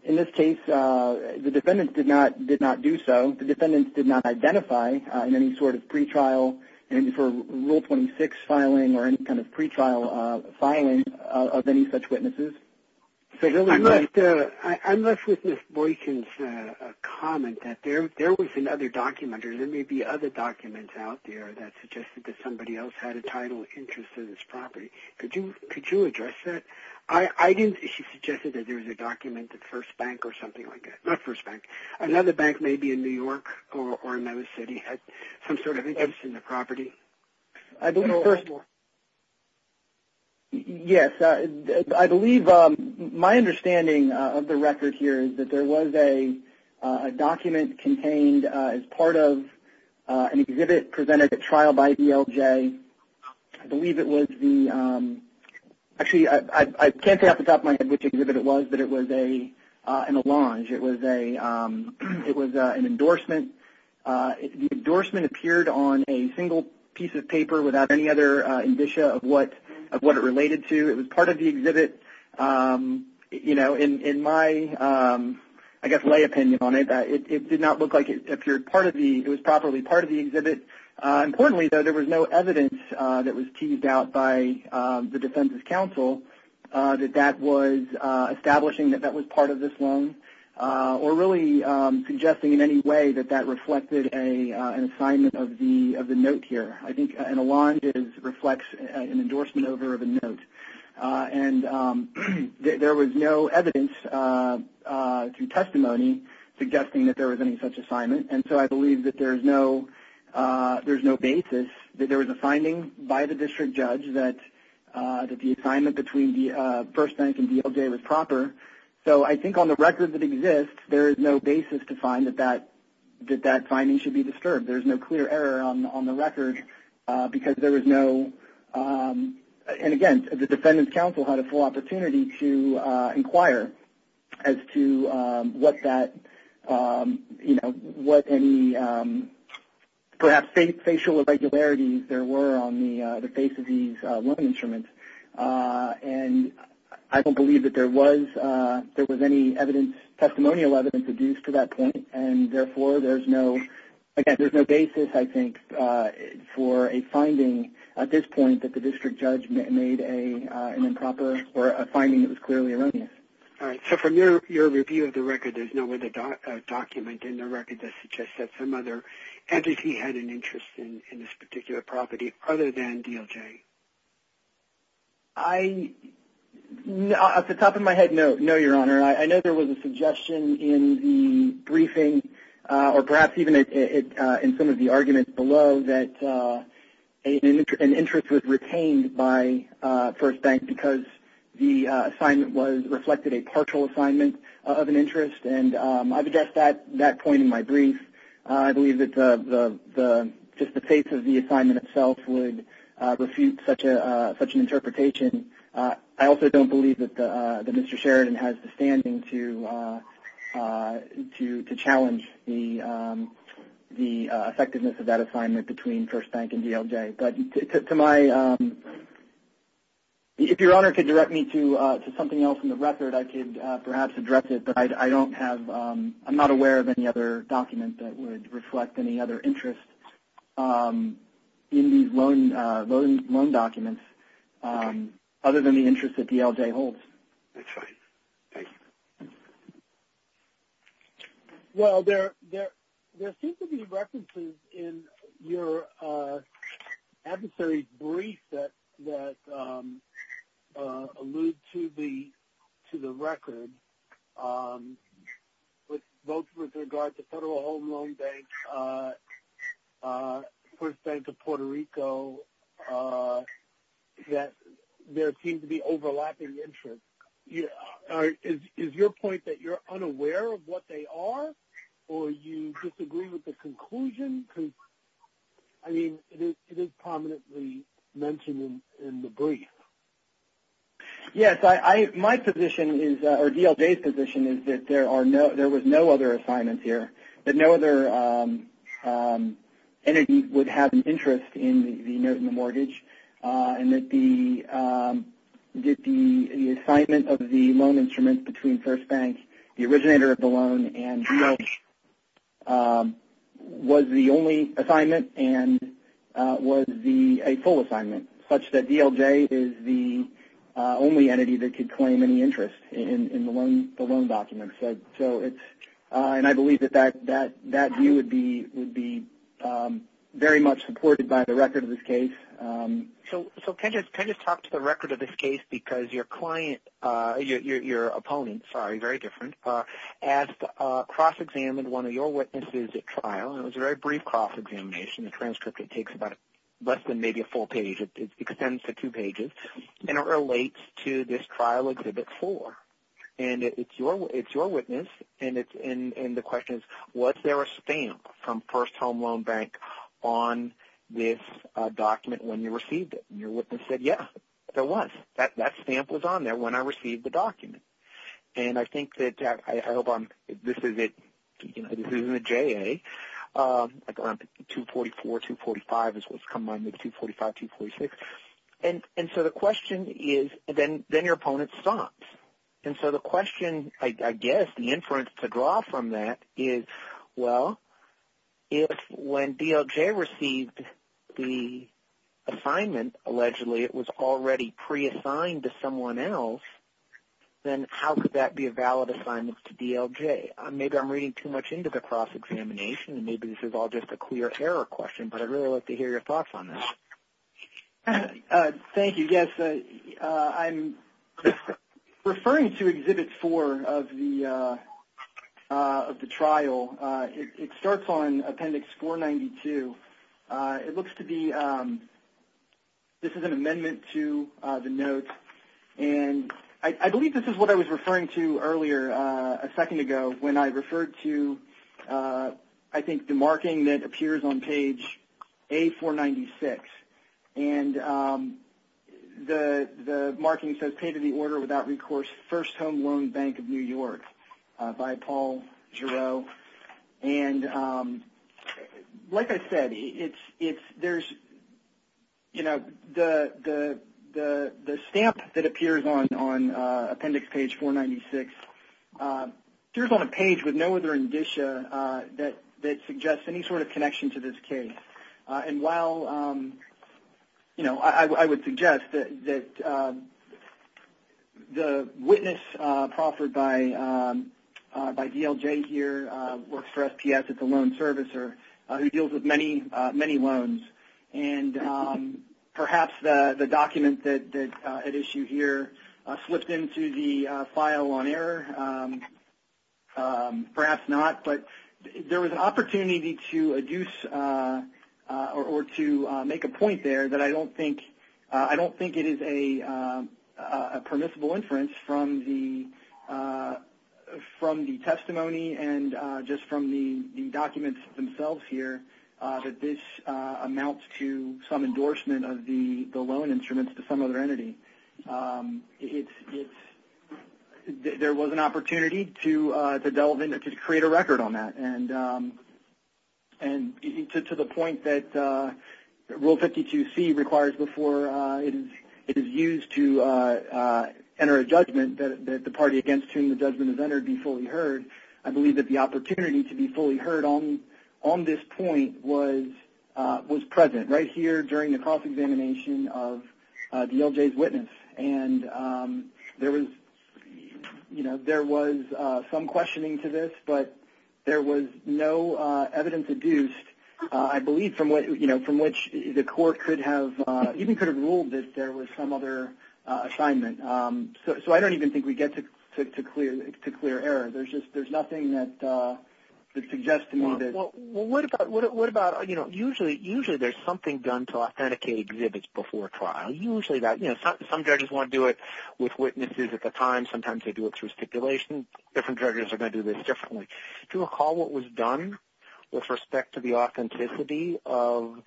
in this case, the defendants did not do so. The defendants did not identify in any sort of pretrial and for Rule 26 filing or any kind of pretrial filing of any such witnesses. I'm left with Ms. Boykin's comment that there was another document or there may be other documents out there that suggested that somebody else had a title interest in this property. Could you address that? She suggested that there was a document at First Bank or something like that, not First Bank. Another bank may be in New York or another city, some sort of interest in the property. Yes, I believe my understanding of the record here is that there was a document contained as part of an exhibit presented at trial by DLJ. I believe it was the – actually, I can't say off the top of my head which exhibit it was, but it was in a lounge. It was an endorsement. The endorsement appeared on a single piece of paper without any other indicia of what it related to. It was part of the exhibit. In my, I guess, lay opinion on it, it did not look like it appeared part of the – it was probably part of the exhibit. Importantly, though, there was no evidence that was teased out by the defense's counsel that that was establishing that that was part of this loan, or really suggesting in any way that that reflected an assignment of the note here. I think an along reflects an endorsement over of a note. And there was no evidence through testimony suggesting that there was any such assignment, and so I believe that there is no basis that there was a finding by the district judge that the assignment between First Bank and DLJ was proper. So I think on the record that exists, there is no basis to find that that finding should be disturbed. There's no clear error on the record because there was no – and again, the defendant's counsel had a full opportunity to inquire as to what that – perhaps facial irregularities there were on the face of these loan instruments. And I don't believe that there was any evidence, testimonial evidence, produced to that point, and therefore there's no – again, there's no basis, I think, for a finding at this point that the district judge made an improper – or a finding that was clearly erroneous. All right, so from your review of the record, there's no other document in the record that suggests that some other entity had an interest in this particular property other than DLJ. I – off the top of my head, no, Your Honor. I know there was a suggestion in the briefing, or perhaps even in some of the arguments below, that an interest was retained by First Bank because the assignment was – I've addressed that point in my brief. I believe that just the face of the assignment itself would refute such an interpretation. I also don't believe that Mr. Sheridan has the standing to challenge the effectiveness of that assignment between First Bank and DLJ. But to my – if Your Honor could direct me to something else in the record, I could perhaps address it. But I don't have – I'm not aware of any other document that would reflect any other interest in these loan documents other than the interest that DLJ holds. That's fine. Thanks. Well, there seems to be references in your adversary's brief that allude to the record, both with regard to Federal Home Loan Bank, First Bank of Puerto Rico, that there seems to be overlapping interest. Is your point that you're unaware of what they are, or you disagree with the conclusion? I mean, it is prominently mentioned in the brief. Yes. My position is – or DLJ's position is that there was no other assignment here, that no other entity would have an interest in the emergent mortgage, and that the assignment of the loan instrument between First Bank, the originator of the loan, and DLJ was the only assignment and was a full assignment, such that DLJ is the only entity that could claim any interest in the loan document. And I believe that that view would be very much supported by the record of this case. So can I just talk to the record of this case? Because your opponent asked to cross-examine one of your witnesses at trial, and it was a very brief cross-examination. The transcript, it takes less than maybe a full page. It extends to two pages, and it relates to this trial Exhibit 4. And it's your witness, and the question is, was there a stamp from First Home Loan Bank on this document when you received it? And your witness said, yes, there was. That stamp was on there when I received the document. And I think that – I hope I'm – this isn't a JA. 244, 245 is what's coming on here, 245, 246. And so the question is, then your opponent stops. And so the question, I guess, the inference to draw from that is, well, if when DLJ received the assignment, allegedly it was already pre-assigned to someone else, then how could that be a valid assignment to DLJ? Maybe I'm reading too much into the cross-examination, and maybe this is all just a clear error question, but I'd really like to hear your thoughts on this. Thank you. Yes, I'm referring to Exhibit 4 of the trial. It starts on Appendix 492. It looks to be – this is an amendment to the notes. And I believe this is what I was referring to earlier, a second ago, when I referred to, I think, the marking that appears on page A496. And the marking says, Pay to the Order Without Recourse First Home Loan Bank of New York by Paul Giroux. And like I said, it's – there's – you know, the stamp that appears on Appendix page 496 appears on a page with no other indicia that suggests any sort of connection to this case. And while, you know, I would suggest that the witness proffered by DLJ here works for SPS as a loan servicer who deals with many, many loans. And perhaps the document at issue here slipped into the file on error. Perhaps not. But there was an opportunity to adduce or to make a point there that I don't think – I don't think it is a permissible inference from the testimony and just from the documents themselves here, that this amounts to some endorsement of the loan instruments to some other entity. It's – there was an opportunity to delve into – to create a record on that. And to the point that Rule 52C requires before it is used to enter a judgment that the party against whom the judgment is entered be fully heard, I believe that the opportunity to be fully heard on this point was present, right here during the cross-examination of DLJ's witness. And there was – you know, there was some questioning to this, but there was no evidence adduced, I believe, from what – you know, from which the court could have – even could have ruled that there was some other assignment. So I don't even think we get to clear error. There's just – there's nothing that suggests to me that – Well, what about – you know, usually there's something done to authenticate exhibits before trial. Usually that – you know, some judges want to do it with witnesses at the time. Sometimes they do it through stipulation. Different judges are going to do this differently. Do you recall what was done with respect to the authenticity of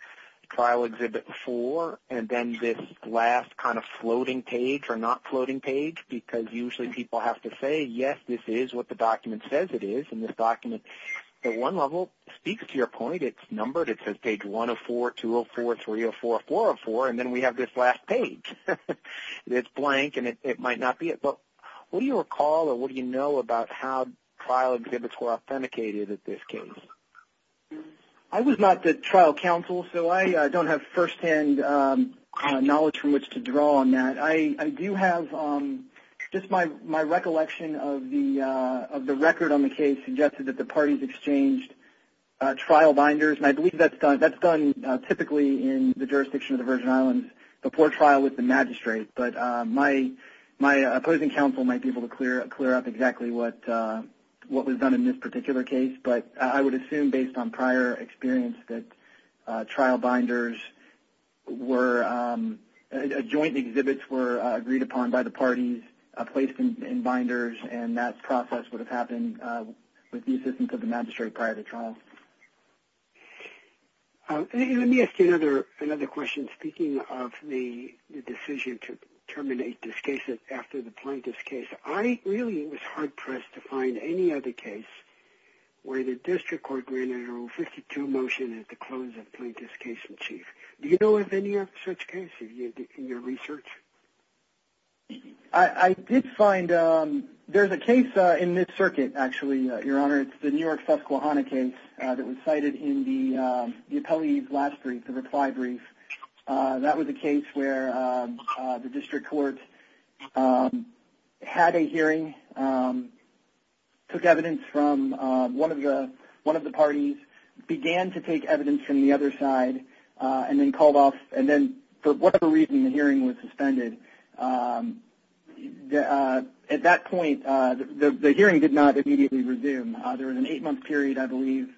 trial exhibit four and then this last kind of floating page or not floating page? Because usually people have to say, yes, this is what the document says it is, and this document at one level speaks to your point. It's numbered. It says page 104, 204, 304, 404, and then we have this last page. It's blank, and it might not be it. But what do you recall or what do you know about how trial exhibits were authenticated at this case? I was not the trial counsel, so I don't have firsthand knowledge from which to draw on that. I do have – just my recollection of the record on the case suggested that the parties exchanged trial binders, and I believe that's done typically in the jurisdiction of the Virgin Islands before trial with the magistrate. But my opposing counsel might be able to clear up exactly what was done in this particular case, but I would assume based on prior experience that trial binders were – joint exhibits were agreed upon by the parties, placed in binders, and that process would have happened with the assistance of the magistrate prior to trial. Let me ask you another question. Speaking of the decision to terminate this case after the plaintiff's case, I really was hard-pressed to find any other case where the district court granted a Rule 52 motion at the close of plaintiff's case in chief. Do you know of any such case in your research? I did find – there's a case in this circuit, actually, Your Honor. It's the New York-Susquehanna case that was cited in the appellee's last brief, the reply brief. That was a case where the district court had a hearing, took evidence from one of the parties, began to take evidence from the other side, and then called off – and then for whatever reason the hearing was suspended. At that point, the hearing did not immediately resume. There was an eight-month period, I believe,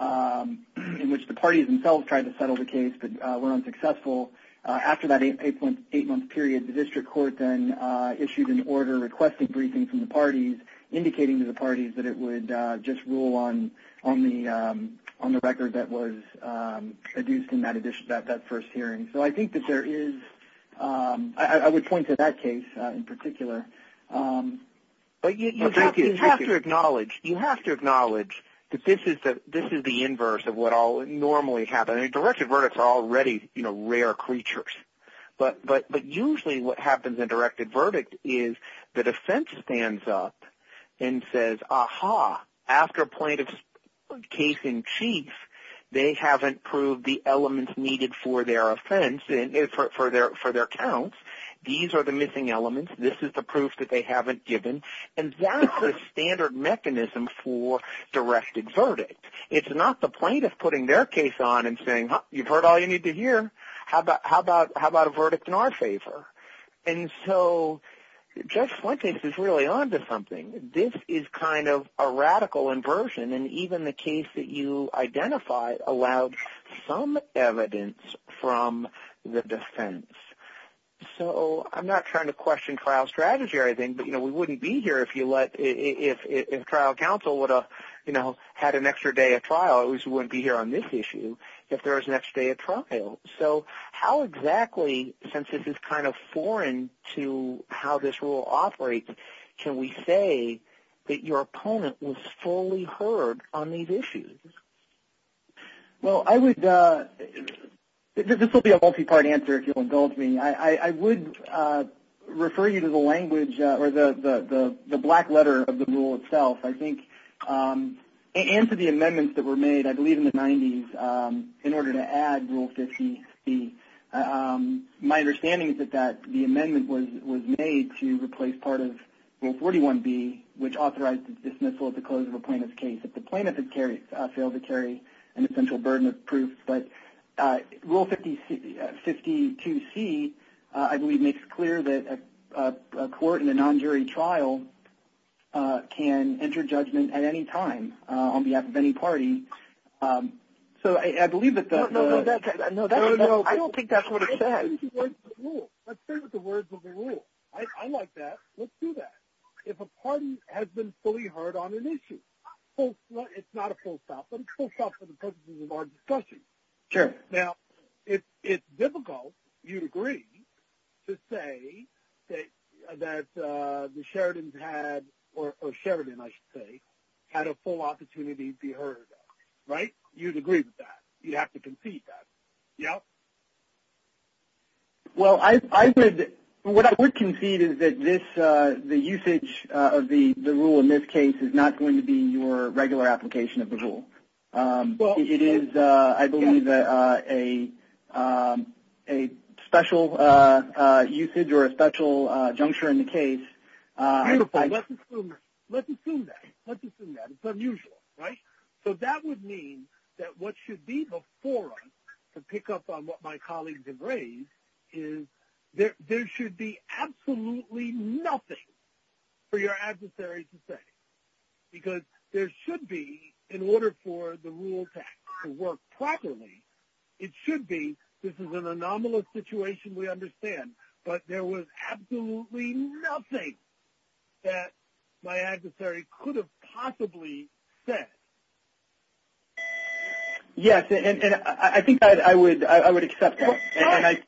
in which the parties themselves tried to settle the case but were unsuccessful. After that eight-month period, the district court then issued an order requesting briefings from the parties, indicating to the parties that it would just rule on the record that was produced in that first hearing. So I think that there is – I would point to that case in particular. But you have to acknowledge that this is the inverse of what normally happens. Directed verdicts are already rare creatures. But usually what happens in directed verdict is that a defense stands up and says, aha, after plaintiff's case in chief, they haven't proved the elements needed for their offense, for their counts. These are the missing elements. This is the proof that they haven't given. And that's the standard mechanism for directed verdict. It's not the plaintiff putting their case on and saying, you've heard all you need to hear. How about a verdict in our favor? And so Judge Flint's case is really on to something. This is kind of a radical inversion, and even the case that you identified allowed some evidence from the defense. So I'm not trying to question trial strategy or anything, but we wouldn't be here if trial counsel would have had an extra day of trial. We wouldn't be here on this issue if there was an extra day of trial. So how exactly, since this is kind of foreign to how this rule operates, can we say that your opponent was fully heard on these issues? Well, this will be a multi-part answer if you'll indulge me. I would refer you to the language or the black letter of the rule itself, I think, and to the amendments that were made, I believe in the 90s, in order to add Rule 50C. My understanding is that the amendment was made to replace part of Rule 41B, which authorized dismissal at the close of a plaintiff's case. The plaintiff had failed to carry an essential burden of proof. But Rule 52C, I believe, makes it clear that a court in a non-jury trial can enter judgment at any time on behalf of any party. So I believe that the – No, no, I don't think that's what it says. Let's start with the words of the rule. I like that. Let's do that. If a party has been fully heard on an issue, it's not a full stop. It's a full stop for the purposes of our discussion. Sure. Now, it's difficult, you'd agree, to say that the Sheridans had, or Sheridan, I should say, had a full opportunity to be heard, right? You'd agree with that. You'd have to concede that. Yeah? Well, what I would concede is that the usage of the rule in this case is not going to be your regular application of the rule. It is, I believe, a special usage or a special juncture in the case. Beautiful. Let's assume that. Let's assume that. It's unusual, right? So that would mean that what should be the forum to pick up on what my colleagues have raised is there should be absolutely nothing for your adversary to say, because there should be, in order for the rule to work properly, it should be, this is an anomalous situation, we understand, but there was absolutely nothing that my adversary could have possibly said. Yes, and I think I would accept that.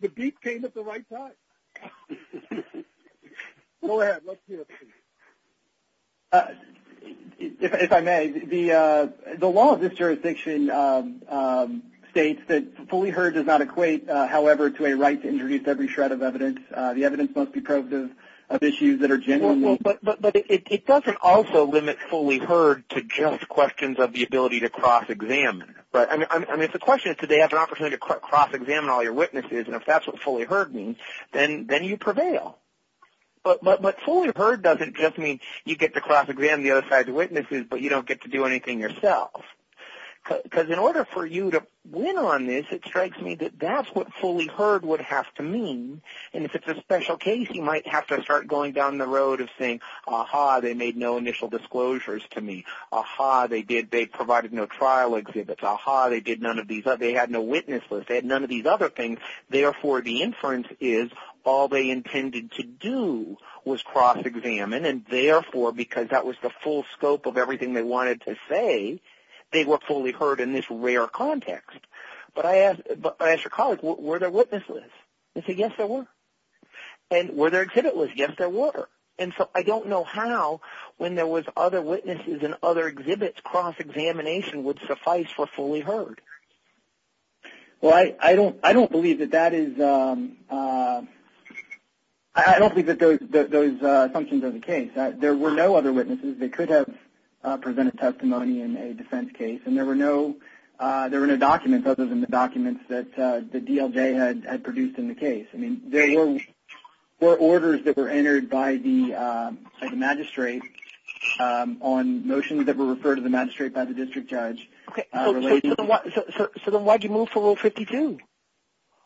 The beat came at the right time. Go ahead. Let's hear it. If I may, the law of this jurisdiction states that fully heard does not equate, however, to a right to introduce every shred of evidence. The evidence must be probative of issues that are genuinely. But it doesn't also limit fully heard to just questions of the ability to cross-examine. Right. I mean, if the question is do they have an opportunity to cross-examine all your witnesses, and if that's what fully heard means, then you prevail. But fully heard doesn't just mean you get to cross-examine the other side's witnesses, but you don't get to do anything yourself. Because in order for you to win on this, it strikes me that that's what fully heard would have to mean. And if it's a special case, you might have to start going down the road of saying, ah-ha, they made no initial disclosures to me. Ah-ha, they provided no trial exhibits. Ah-ha, they had no witnesses. They had none of these other things. Therefore, the inference is all they intended to do was cross-examine, and therefore, because that was the full scope of everything they wanted to say, they were fully heard in this rare context. But I asked your colleague, were there witnesses? He said, yes, there were. And were there exhibit lists? Yes, there were. And so I don't know how, when there was other witnesses and other exhibits, cross-examination would suffice for fully heard. Well, I don't believe that that is the case. There were no other witnesses. They could have presented testimony in a defense case, and there were no documents other than the documents that the DLJ had produced in the case. I mean, there were orders that were entered by the magistrate on motions that were referred to the magistrate by the district judge. So then why did you move to Rule 52?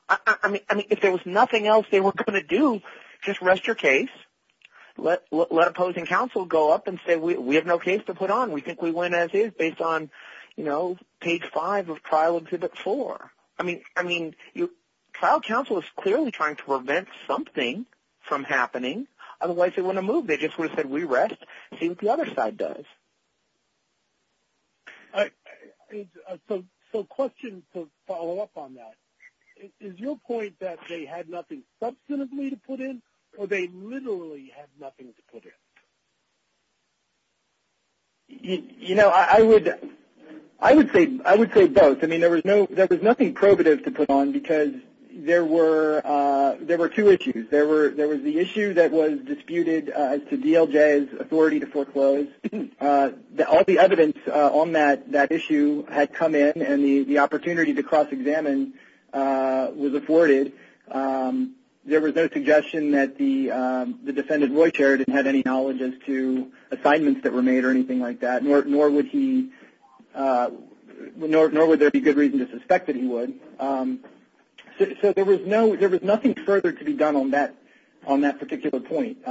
I mean, if there was nothing else they were going to do, just rest your case, let opposing counsel go up and say, we have no case to put on. We think we win as is based on, you know, page five of Trial Exhibit 4. I mean, trial counsel is clearly trying to prevent something from happening. Otherwise, they wouldn't have moved. They just would have said, we rest. See what the other side does. So a question to follow up on that. Is your point that they had nothing substantively to put in, or they literally had nothing to put in? You know, I would say both. I mean, there was nothing probative to put on because there were two issues. There was the issue that was disputed as to DLJ's authority to foreclose. All the evidence on that issue had come in, and the opportunity to cross-examine was afforded. There was no suggestion that the defendant, Roy Chariton, had any knowledge as to assignments that were made or anything like that, nor would there be good reason to suspect that he would. So there was nothing further to be done on that particular point.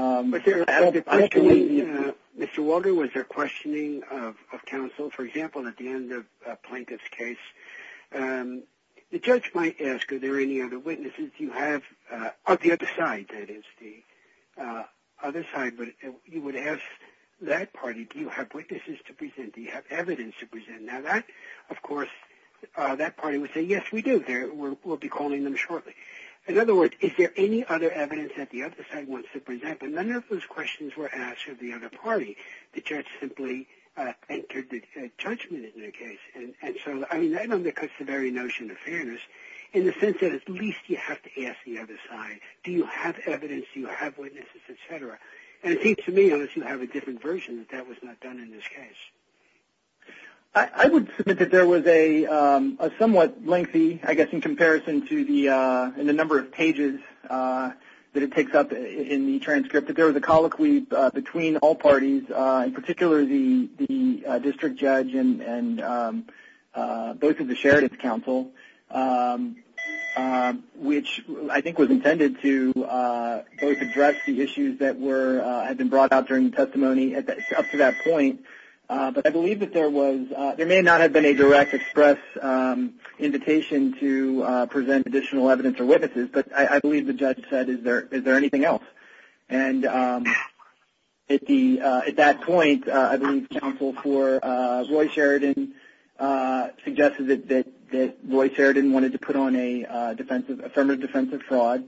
Mr. Walter, was there questioning of counsel? For example, at the end of a plaintiff's case, the judge might ask, are there any other witnesses? You have the other side, that is, the other side. But you would ask that party, do you have witnesses to present? Do you have evidence to present? Now, of course, that party would say, yes, we do. We'll be calling them shortly. In other words, is there any other evidence that the other side wants to present? But none of those questions were asked of the other party. The judge simply entered the judgment in their case. And so, I mean, that undercuts the very notion of fairness in the sense that at least you have to ask the other side, do you have evidence, do you have witnesses, et cetera. And it seems to me as you have a different version that that was not done in this case. I would submit that there was a somewhat lengthy, I guess, in comparison to the number of pages that it takes up in the transcript, that there was a colloquy between all parties, in particular the district judge and both of the sheriff's counsel, which I think was intended to both address the issues that were had been brought up during the testimony up to that point. But I believe that there was – there may not have been a direct express invitation to present additional evidence or witnesses, but I believe the judge said, is there anything else? And at that point, I believe counsel for Roy Sheridan suggested that Roy Sheridan wanted to put on a affirmative defensive fraud.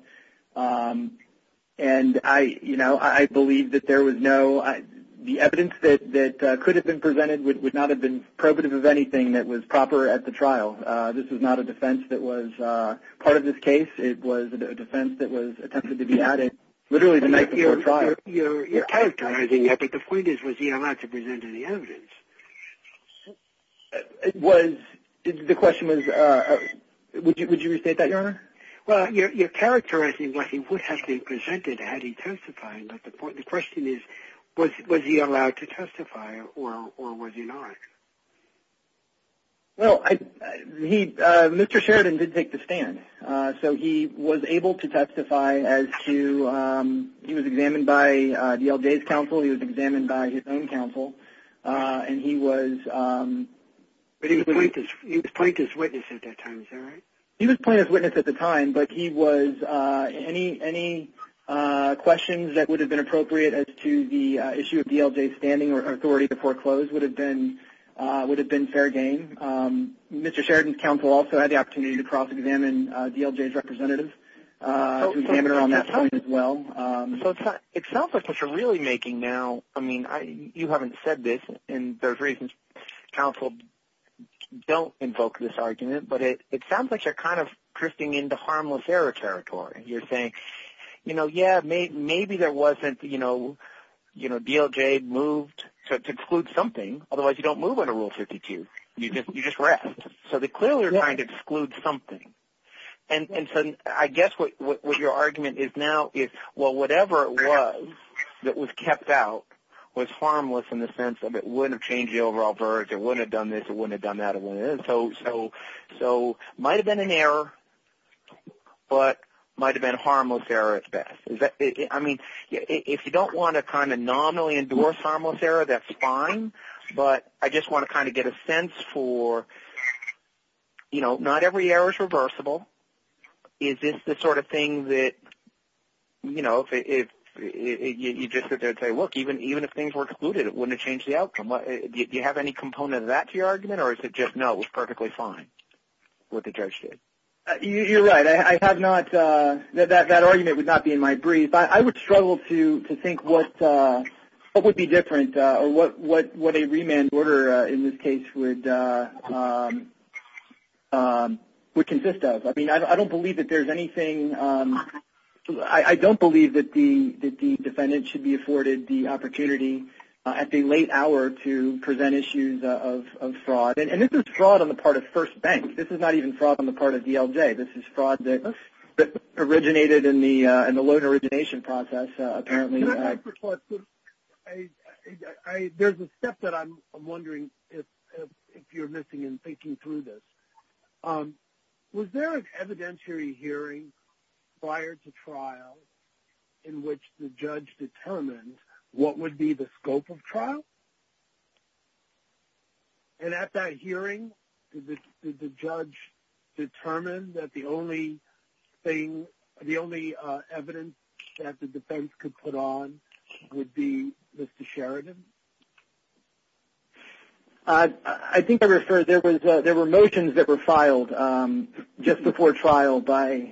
And, you know, I believe that there was no – the evidence that could have been presented would not have been probative of anything that was proper at the trial. This was not a defense that was part of this case. It was a defense that was intended to be added literally the night before trial. Your characterizing, I think the point is, was he allowed to present any evidence? It was – the question was – would you restate that, Your Honor? Well, your characterizing was he would have been presented had he testified. But the question is, was he allowed to testify or was he not? Well, he – Mr. Sheridan did make the stand. So he was able to testify as to – he was examined by Dale Day's counsel. He was examined by his own counsel. And he was – But he was point as witness at that time, is that right? He was point as witness at the time, but he was – any questions that would have been appropriate as to the issue of Dale Day's standing or authority to foreclose would have been fair game. Mr. Sheridan's counsel also had the opportunity to cross-examine Dale Day's representative. He was examined around that time as well. So it sounds like what you're really making now – I mean, you haven't said this, and there's reasons counsel don't invoke this argument, but it sounds like you're kind of drifting into harmless error territory. You're saying, you know, yeah, maybe there wasn't – you know, Dale Day moved to exclude something. Otherwise, you don't move under Rule 52. You just rest. So they clearly were trying to exclude something. And so I guess what your argument is now is, well, whatever it was that was kept out was harmless in the sense of it wouldn't have changed the overall verdict. It wouldn't have done this. It wouldn't have done that. So it might have been an error, but it might have been a harmless error at best. I mean, if you don't want to kind of nominally endorse harmless error, that's fine. But I just want to kind of get a sense for, you know, not every error is reversible. Is this the sort of thing that, you know, you just sit there and say, look, even if things were excluded, it wouldn't have changed the outcome. Do you have any component of that to your argument, or is it just, no, it was perfectly fine what the judge did? You're right. I have not – that argument would not be in my brief. I would struggle to think what would be different or what a remand order in this case would consist of. I mean, I don't believe that there's anything – I don't believe that the defendant should be afforded the opportunity at the late hour to present issues of fraud. And this is fraud on the part of First Bank. This is not even fraud on the part of DLJ. This is fraud that originated in the loan origination process, apparently. There's a step that I'm wondering if you're missing in thinking through this. Was there an evidentiary hearing prior to trial in which the judge determined what would be the scope of trial? And at that hearing, did the judge determine that the only thing – the only evidence that the defense could put on would be Mr. Sheridan? I think I referred – there were motions that were filed just before trial by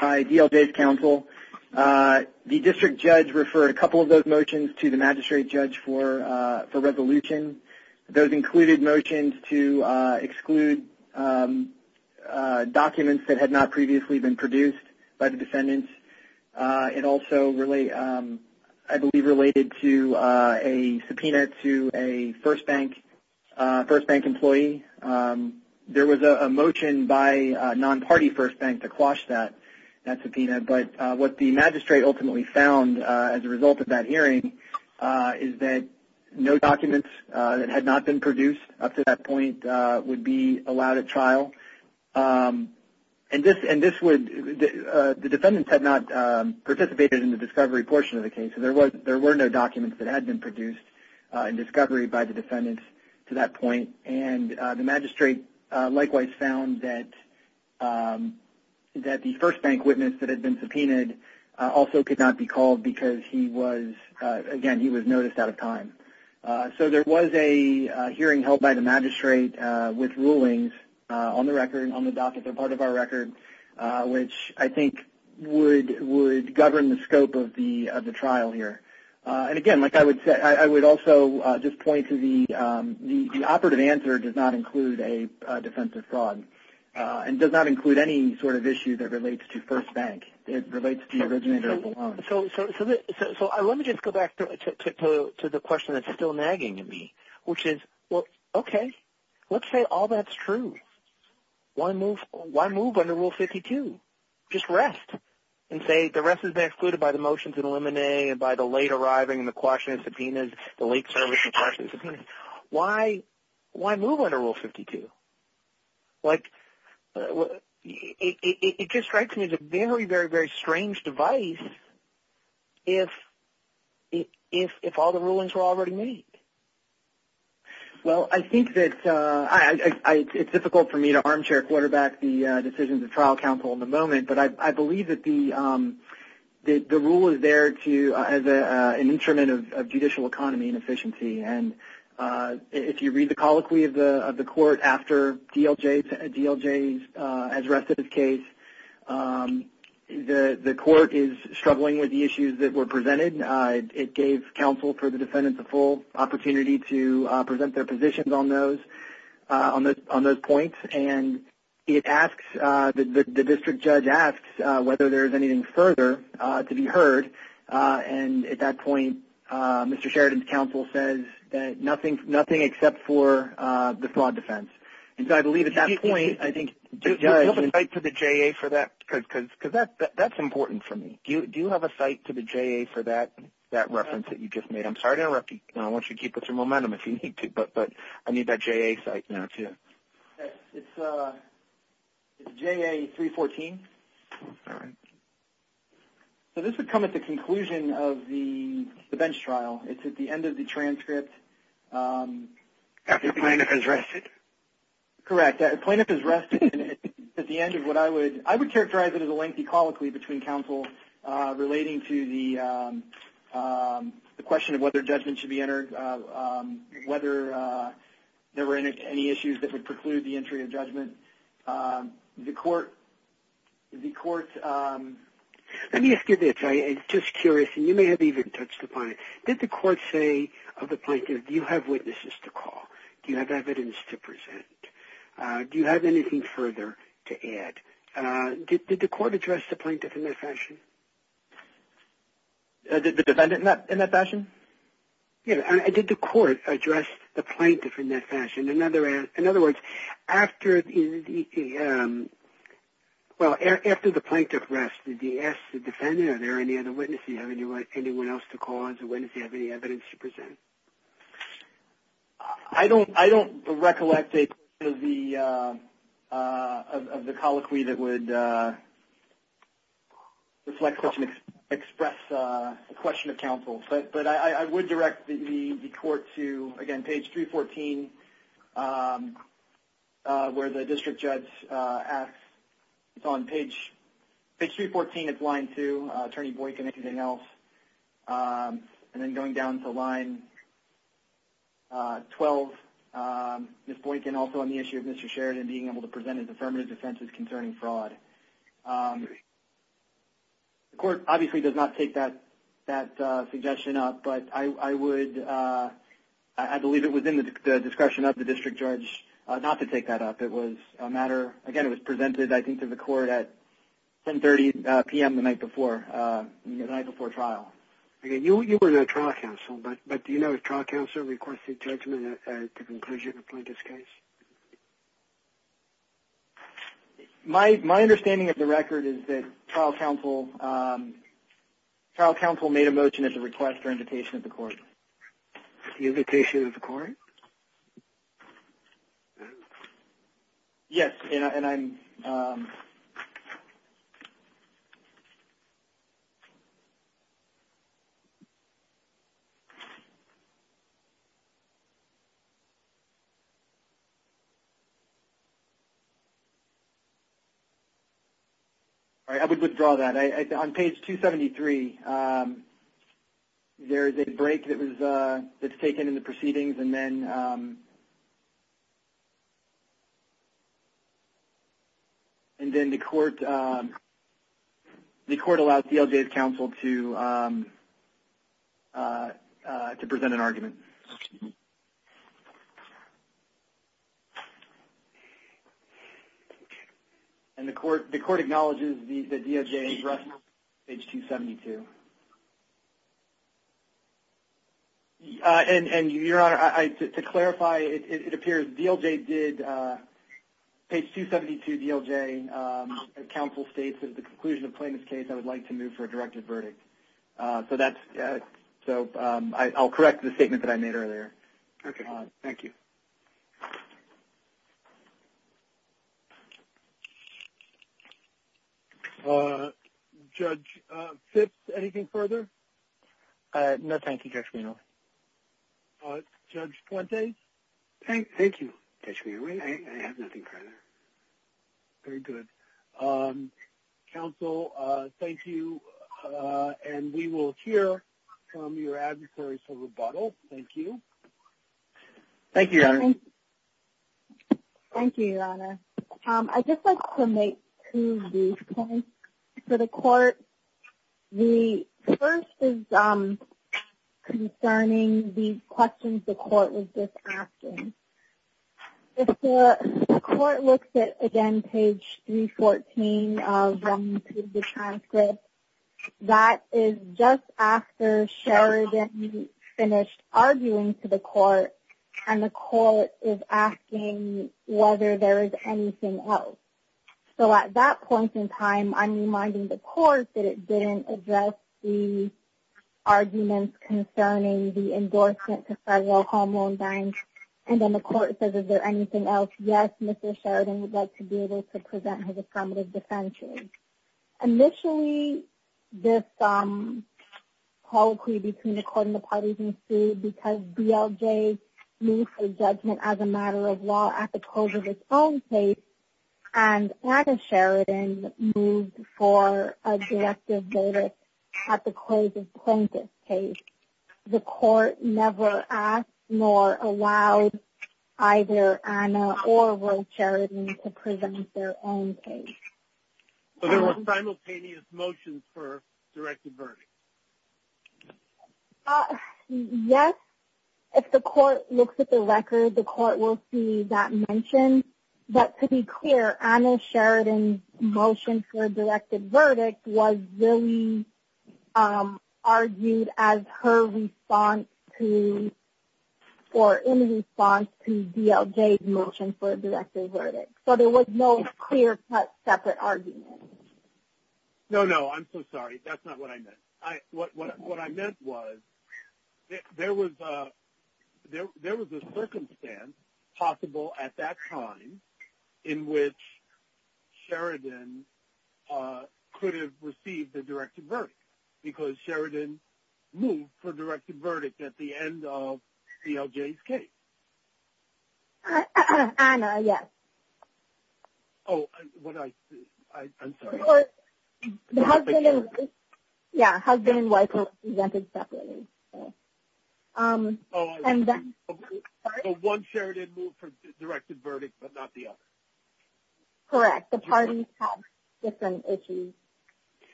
DLJ's counsel. The district judge referred a couple of those motions to the magistrate judge for resolution. Those included motions to exclude documents that had not previously been produced by the defendants. It also, I believe, related to a subpoena to a First Bank employee. There was a motion by a non-party First Bank to quash that subpoena. But what the magistrate ultimately found as a result of that hearing is that no documents that had not been produced up to that point would be allowed at trial. And this would – the defendants had not participated in the discovery portion of the case, so there were no documents that had been produced in discovery by the defendants to that point. And the magistrate likewise found that the First Bank witness that had been subpoenaed also could not be called because he was – again, he was noticed out of time. So there was a hearing held by the magistrate with rulings on the record, on the docket. They're part of our record, which I think would govern the scope of the trial here. And again, like I would say, I would also just point to the operative answer does not include a defense of fraud and does not include any sort of issue that relates to First Bank. So let me just go back to the question that's still nagging at me, which is, well, okay, let's say all that's true. Why move under Rule 52? Just rest and say the rest has been excluded by the motions and limine and by the late arriving and the quashing of subpoenas, the late servicing of subpoenas. Why move under Rule 52? Like, it just strikes me as a very, very, very strange device if all the rulings were already made. Well, I think that – it's difficult for me to armchair quarterback the decisions of trial counsel in the moment, but I believe that the rule is there to – as an instrument of judicial economy and efficiency. And if you read the colloquy of the court after DLJ's – as the rest of his case, the court is struggling with the issues that were presented. It gave counsel for the defendant the full opportunity to present their positions on those points. And it asks – the district judge asks whether there's anything further to be heard. And at that point, Mr. Sheridan's counsel says that nothing except for the fraud defense. And so I believe at that point, I think the judge – Do you have a cite to the JA for that? Because that's important for me. Do you have a cite to the JA for that reference that you just made? I'm sorry to interrupt you. I want you to keep up some momentum if you need to, but I need that JA cite now too. It's JA 314. All right. So this would come at the conclusion of the bench trial. It's at the end of the transcript. After plaintiff has rested. Correct. Plaintiff has rested. At the end of what I would – I would characterize it as a lengthy colloquy between counsel relating to the question of whether judgment should be entered, whether there were any issues that would preclude the entry of judgment. The court – let me ask you this. I'm just curious, and you may have even touched upon it. Did the court say of the plaintiff, do you have witnesses to call? Do you have evidence to present? Do you have anything further to add? Did the court address the plaintiff in that fashion? The defendant in that fashion? Did the court address the plaintiff in that fashion? In other words, after the – well, after the plaintiff rested, did you ask the defendant, are there any other witnesses? Do you have anyone else to call as a witness? Do you have any evidence to present? I don't recollect a part of the colloquy that would express the question of counsel, but I would direct the court to, again, page 314, where the district judge asks – it's on page – page 314, it's line 2, Attorney Boykin, if anything else, and then going down to line 12, Ms. Boykin, also on the issue of Mr. Sheridan being able to present his affirmative defense concerning fraud. The court obviously does not take that suggestion up, but I would – I believe it was in the discretion of the district judge not to take that up. It was a matter – again, it was presented, I think, to the court at 10.30 p.m. the night before, the night before trial. Okay. You were the trial counsel, but do you know if trial counsel requested judgment at the conclusion of the plaintiff's case? My understanding of the record is that trial counsel made a motion at the request or invitation of the court. The invitation of the court? Yes, and I'm – All right, I would withdraw that. On page 273, there is a break that was – that's taken in the proceedings, and then – and then the court – the court allowed CLJ's counsel to present an argument. And the court – the court acknowledges that DLJ addressed page 272. And, Your Honor, to clarify, it appears DLJ did – page 272, DLJ, counsel states that at the conclusion of the plaintiff's case, I would like to move for a directive verdict. So that's – so I'll correct the statement that I just made, that I made earlier. Okay. Thank you. Judge Phipps, anything further? No, thank you, Judge Meehan. Judge Fuente? Thank you, Judge Meehan. I have nothing further. Very good. Counsel, thank you, and we will hear from your adversaries for rebuttal. Thank you. Thank you, Your Honor. Thank you, Your Honor. I'd just like to make two brief points for the court. The first is concerning the questions the court was just asking. If the court looks at, again, page 314 of the transcript, that is just after Sheridan finished arguing to the court, and the court is asking whether there is anything else. So at that point in time, I'm reminding the court that it didn't address the arguments concerning the case, and then the court says, is there anything else? Yes, Mr. Sheridan would like to be able to present his affirmative defense. Initially, this colloquy between the court and the parties ensued because BLJ moved for judgment as a matter of law at the close of its own case, and Anna Sheridan moved for a directive notice at the close of Plaintiff's case. The court never asked nor allowed either Anna or Will Sheridan to present their own case. Are there simultaneous motions for directed verdict? Yes. If the court looks at the record, the court will see that mentioned. But to be clear, Anna Sheridan's motion for a directed verdict was really argued as her response to, or in response to BLJ's motion for a directed verdict. So there was no clear-cut separate argument. No, no, I'm so sorry. That's not what I meant. What I meant was there was a circumstance possible at that time in which Sheridan could have received a directed verdict because Sheridan moved for directed verdict at the end of BLJ's case. Anna, yes. Oh, I'm sorry. Yeah, husband and wife were presented separately. So one Sheridan moved for directed verdict but not the other. Correct. The parties had different issues.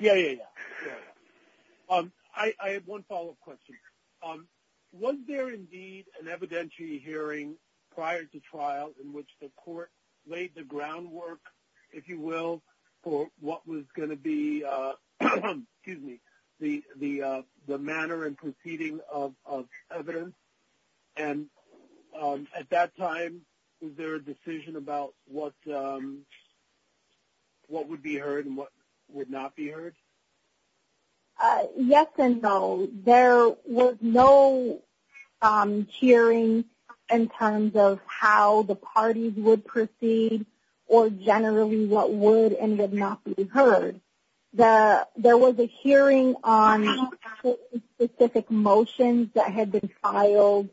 Yeah, yeah, yeah. I have one follow-up question. Was there indeed an evidentiary hearing prior to trial in which the court laid the groundwork, if you will, for what was going to be the manner and proceeding of evidence? And at that time, was there a decision about what would be heard and what would not be heard? Yes and no. There was no hearing in terms of how the parties would proceed or generally what would and would not be heard. There was a hearing on specific motions that had been filed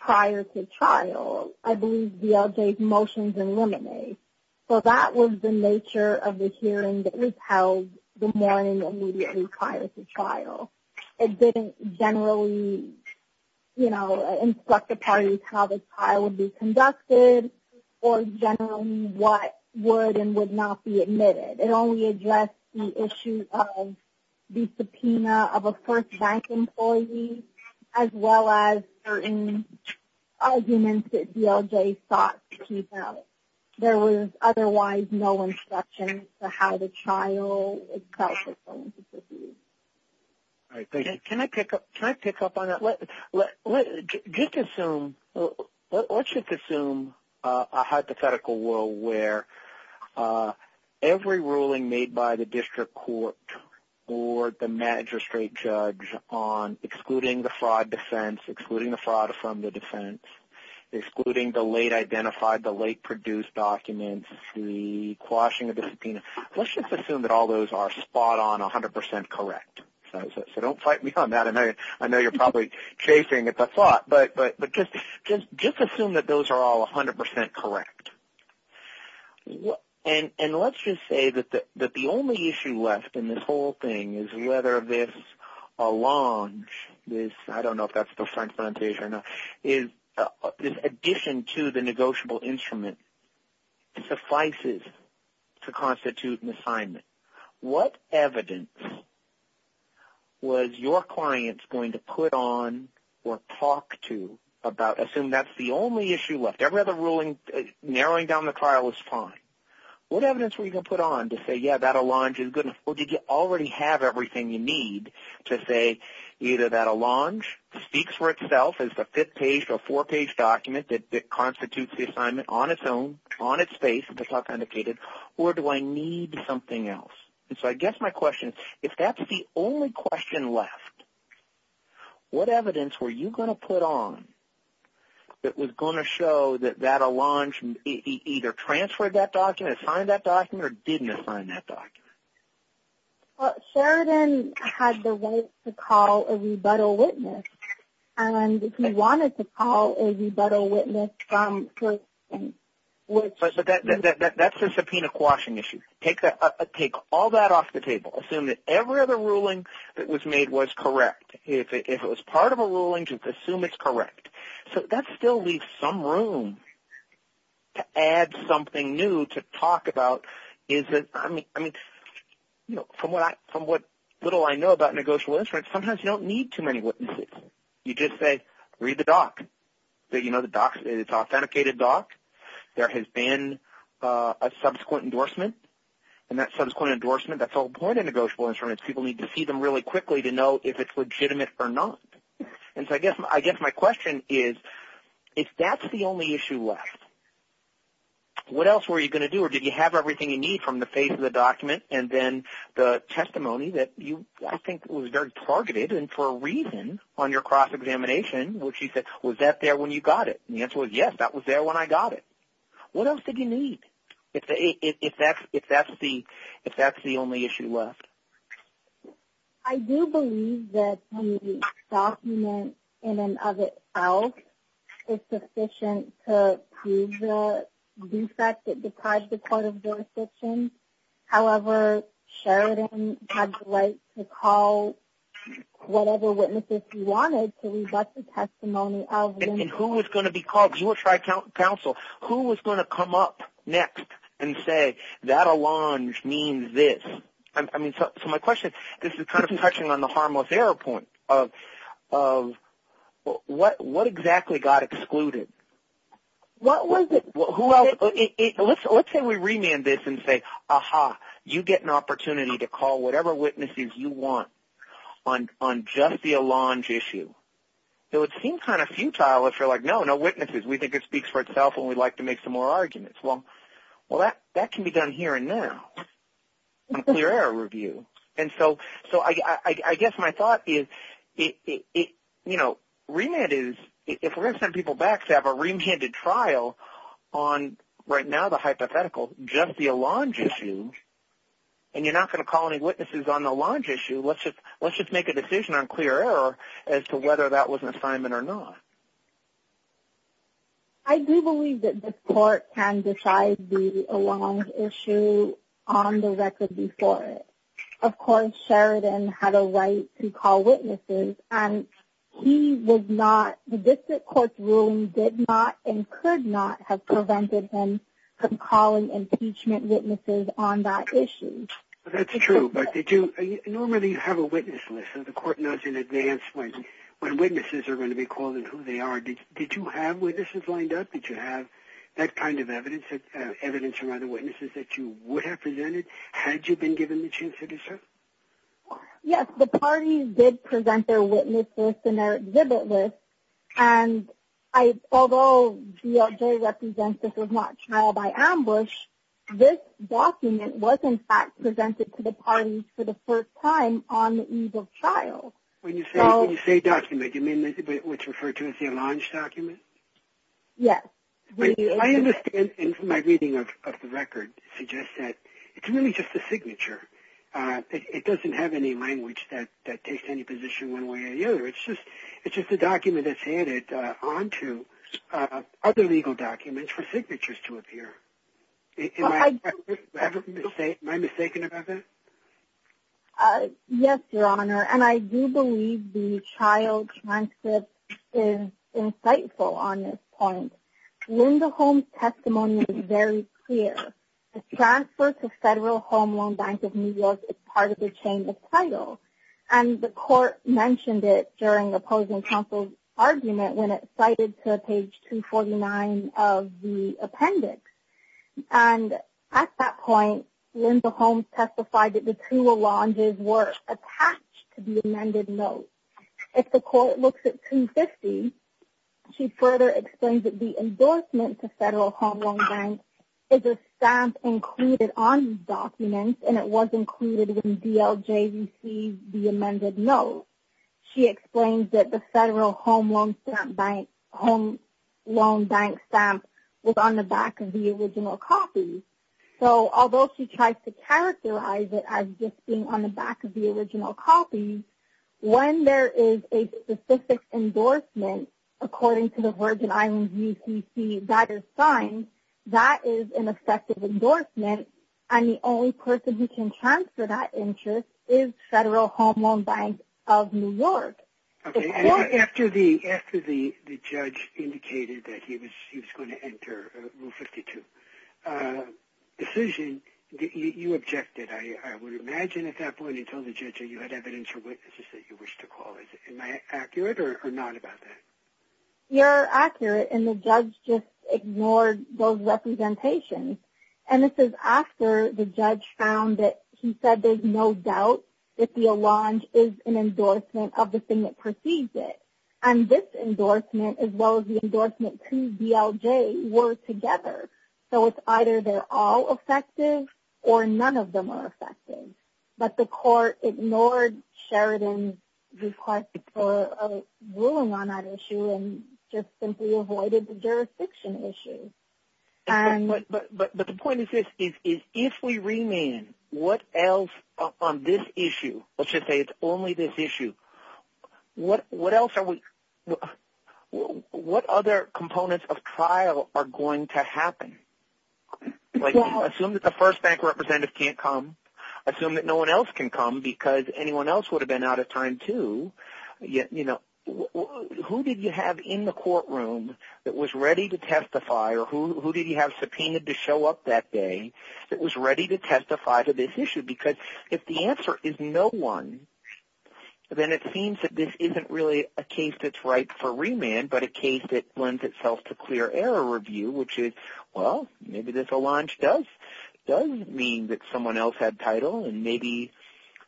prior to trial. I believe BLJ's motions eliminate. So that was the nature of the hearing that was held the morning immediately prior to trial. It didn't generally instruct the parties how the trial would be conducted or generally what would and would not be admitted. It only addressed the issue of the subpoena of a first bank employee as well as certain arguments that BLJ sought to keep out. There was otherwise no instruction as to how the trial itself was going to proceed. Can I pick up on that? Let's just assume a hypothetical world where every ruling made by the district court or the magistrate judge on excluding the fraud defense, excluding the fraud from the defense, excluding the late identified, the late produced documents, the quashing of the subpoena, let's just assume that all those are spot on 100% correct. So don't fight me on that. I know you're probably chafing at the thought, but just assume that those are all 100% correct. And let's just say that the only issue left in this whole thing is whether this alone is, I don't know if that's the French pronunciation, is addition to the negotiable instrument suffices to constitute an assignment. What evidence was your clients going to put on or talk to about, assume that's the only issue left. Every other ruling narrowing down the trial was fine. What evidence were you going to put on to say, yeah, that Allonge is good or did you already have everything you need to say either that Allonge speaks for itself as the fifth page or four-page document that constitutes the assignment on its own, on its face, or do I need something else? And so I guess my question is, if that's the only question left, what evidence were you going to put on that was going to show that that Allonge either transferred that document, signed that document, or did not sign that document? Sheridan had the right to call a rebuttal witness. And if you wanted to call a rebuttal witness from the court, that's a subpoena quashing issue. Take all that off the table. Assume that every other ruling that was made was correct. If it was part of a ruling, just assume it's correct. So that still leaves some room to add something new to talk about. From what little I know about negotiable instruments, sometimes you don't need too many witnesses. You just say, read the doc. It's an authenticated doc. There has been a subsequent endorsement, and that subsequent endorsement, that's all part of negotiable instruments. People need to see them really quickly to know if it's legitimate or not. And so I guess my question is, if that's the only issue left, what else were you going to do, or did you have everything you need from the face of the document and then the testimony that you, I think, was very targeted and for a reason on your cross-examination, which you said, was that there when you got it? And the answer was, yes, that was there when I got it. What else did you need if that's the only issue left? I do believe that the document in and of itself is sufficient to prove the defect that deprived the court of jurisdiction. However, Sheridan had the right to call whatever witnesses he wanted to leave us a testimony of. And who was going to be called? Because you were tri-council. Who was going to come up next and say, that allonge means this? So my question, this is kind of touching on the harmless error point, of what exactly got excluded? What was it? Let's say we remand this and say, ah-ha, you get an opportunity to call whatever witnesses you want on just the allonge issue. It would seem kind of futile if you're like, no, no witnesses. We think it speaks for itself and we'd like to make some more arguments. Well, that can be done here and now on a clear error review. And so I guess my thought is, remand is, if we're going to send people back to have a remanded trial on, right now, the hypothetical, just the allonge issue, and you're not going to call any witnesses on the allonge issue, let's just make a decision on clear error as to whether that was an assignment or not. I do believe that the court can decide the allonge issue on the record before it. Of course, Sheridan had a right to call witnesses, and he did not, the district court's ruling did not and could not have prevented him from calling impeachment witnesses on that issue. That's true, but did you, normally you have a witness list, so the court knows in advance when witnesses are going to be called and who they are. Did you have witnesses lined up? Did you have that kind of evidence, evidence from other witnesses that you would have presented had you been given the chance to do so? Yes, the parties did present their witnesses and their exhibit list, and although DOJ represents this was not trial by ambush, this document was in fact presented to the parties for the first time on the eve of trial. When you say document, you mean what's referred to as the allonge document? Yes. I understand, and my reading of the record suggests that, it's really just a signature. It doesn't have any language that takes any position one way or the other. It's just a document that's handed onto other legal documents for signatures to appear. Am I mistaken about that? Yes, Your Honor, and I do believe the trial transcript is insightful on this point. Linda Holmes' testimony is very clear. The transfer to Federal Home Loan Bank of New York is part of the change of title, and the court mentioned it during the opposing counsel's argument when it cited to page 249 of the appendix. At that point, Linda Holmes testified that the two allonges were attached to the amended note. If the court looks at 250, she further explains that the endorsement to Federal Home Loan Bank is a stamp included on these documents, and it was included in DLJVC, the amended note. She explains that the Federal Home Loan Bank stamp was on the back of the original copy. Although she tries to characterize it as just being on the back of the original copy, she says that when there is a specific endorsement, according to the word that I use, you can see that it's signed, that is an effective endorsement, and the only person who can transfer that interest is Federal Home Loan Bank of New York. After the judge indicated that he was going to enter Rule 52 decision, you objected. I would imagine at that point you told the judge that you had evidence or witnesses that you wish to call. Am I accurate or not about that? You're accurate, and the judge just ignored those representations. And this is after the judge found that he said there's no doubt that the allonge is an endorsement of the thing that precedes it. And this endorsement, as well as the endorsement to DLJ, were together. So it's either they're all effective or none of them are effective. But the court ignored Sheridan's request for a ruling on that issue and just simply avoided the jurisdiction issue. But the point is this. If we remain, what else on this issue, let's just say it's only this issue, what other components of trial are going to happen? Assume that the first bank representative can't come. Assume that no one else can come because anyone else would have been out of time, too. Who did you have in the courtroom that was ready to testify, or who did you have subpoenaed to show up that day that was ready to testify to this issue? I think that's a good question, because if the answer is no one, then it seems that this isn't really a case that's ripe for remand, but a case that lends itself to clear error review, which is, well, maybe this allonge does mean that someone else had title, and maybe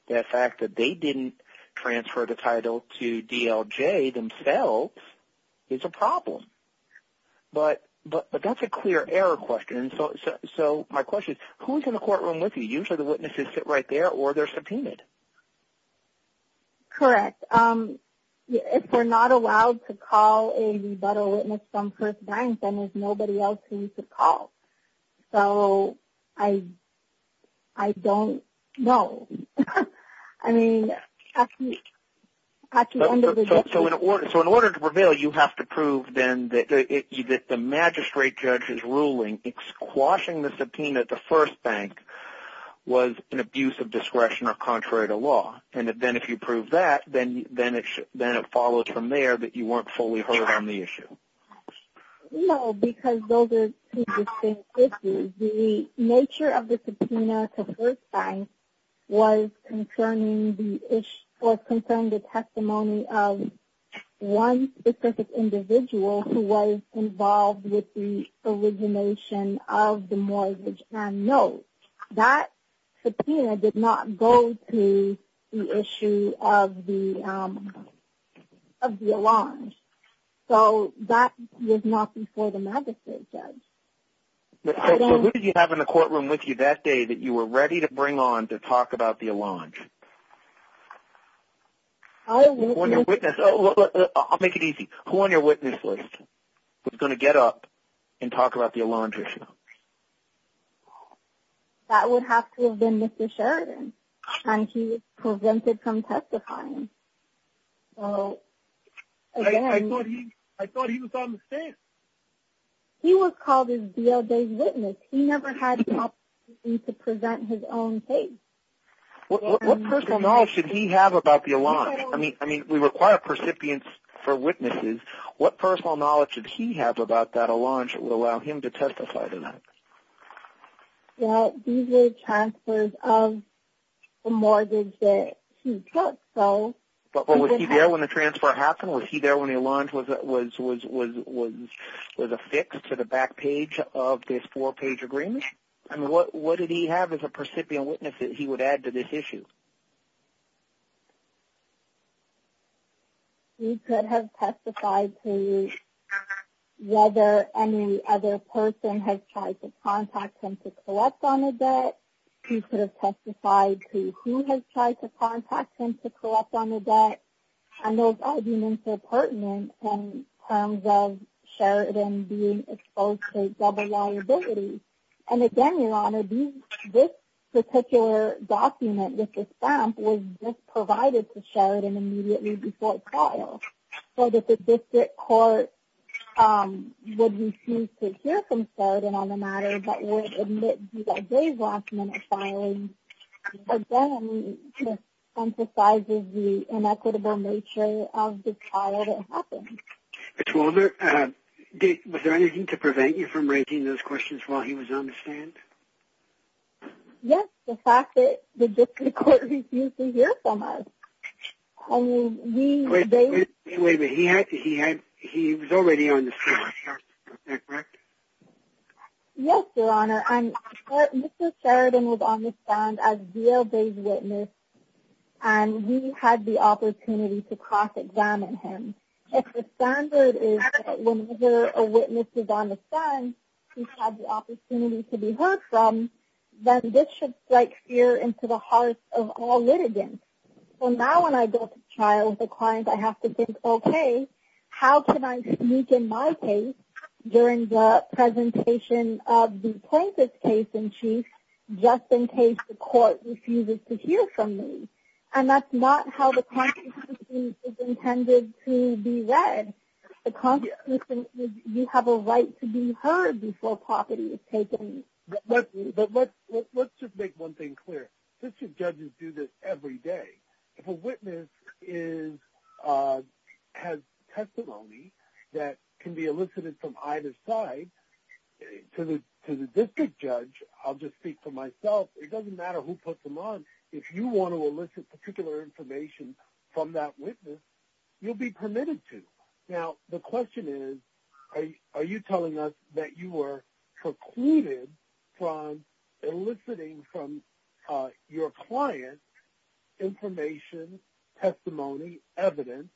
that fact that they didn't transfer the title to DLJ themselves is a problem. But that's a clear error question. So my question is, who's in the courtroom with you? Usually the witnesses sit right there, or they're subpoenaed. Correct. If they're not allowed to call a rebuttal witness from first bank, then there's nobody else who needs to call. So I don't know. I mean, at the end of the day. So in order to prevail, you have to prove then that the magistrate judge's ruling, squashing the subpoena at the first bank, was an abuse of discretion or contrary to law. And then if you prove that, then it follows from there that you weren't fully heard on the issue. No, because those are two distinct issues. The nature of the subpoena at the first bank was concerning the testimony of one specific individual who was involved with the origination of the mortgage and notes. That subpoena did not go to the issue of the allonge. So that was not before the magistrate judge. So who did you have in the courtroom with you that day that you were ready to bring on to talk about the allonge? I'll make it easy. Who on your witness list was going to get up and talk about the allonge issue? That would have to have been Mr. Sheridan and he was prevented from testifying. I thought he was on the stand. He was called his BLJ witness. He never had the opportunity to present his own case. What personal knowledge did he have about the allonge? I mean, we require percipients for witnesses. What personal knowledge did he have about that allonge that would allow him to testify tonight? That these are transfers of the mortgage that he took. But was he there when the transfer happened? Was he there when the allonge was affixed to the back page of this four-page agreement? And what did he have as a percipient witness that he would add to this issue? He could have testified to whether any other person has tried to contact him to collect on the debt. He could have testified to who has tried to contact him to collect on the debt. And those arguments are pertinent in terms of Sheridan being exposed to double liability. And again, your honor, this particular document, this stamp, was just provided to Sheridan immediately before trial. So that the district court would refuse to hear from Sheridan on the matter that would admit BLJ's last-minute filing, again, emphasizes the inequitable nature of this trial that happened. Was there anything to prevent you from raising those questions while he was on the stand? Yes. The fact that the district court refused to hear from us. Wait a minute. He was already on the stand. Is that correct? Yes, your honor. Mr. Sheridan was on the stand as BLJ's witness. And we had the opportunity to cross-examine him. If the standard is that whenever a witness is on the stand, you have the opportunity to be heard from, then this should strike fear into the hearts of all litigants. So now when I go to trial with a client, I have to think, okay, how can I speak in my case during the presentation of the plaintiff's case in chief, just in case the court refuses to hear from me? And that's not how the constitution is intended to be read. The constitution, you have a right to be heard before property is taken. But let's just make one thing clear. District judges do this every day. If a witness has testimony that can be elicited from either side, to the district judge, I'll just speak for myself, it doesn't matter who puts them on. If you want to elicit particular information from that witness, you'll be permitted to. Now the question is, are you telling us that you were precluded from eliciting from your client information, testimony, evidence,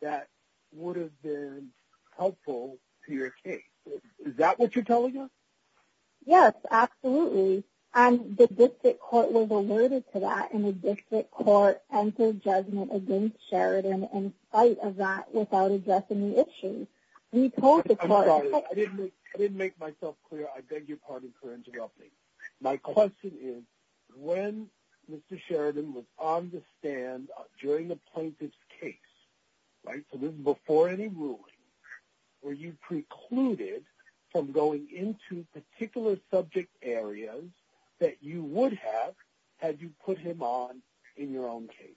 that would have been helpful to your case? Is that what you're telling us? Yes, absolutely. And the district court was alerted to that, and the district court entered judgment against Sheridan in spite of that without addressing the issue. I'm sorry, I didn't make myself clear. I beg your pardon for interrupting. My question is, when Mr. Sheridan was on the stand during the plaintiff's case, right, so this is before any ruling, were you precluded from going into particular subject areas that you would have had you put him on in your own case?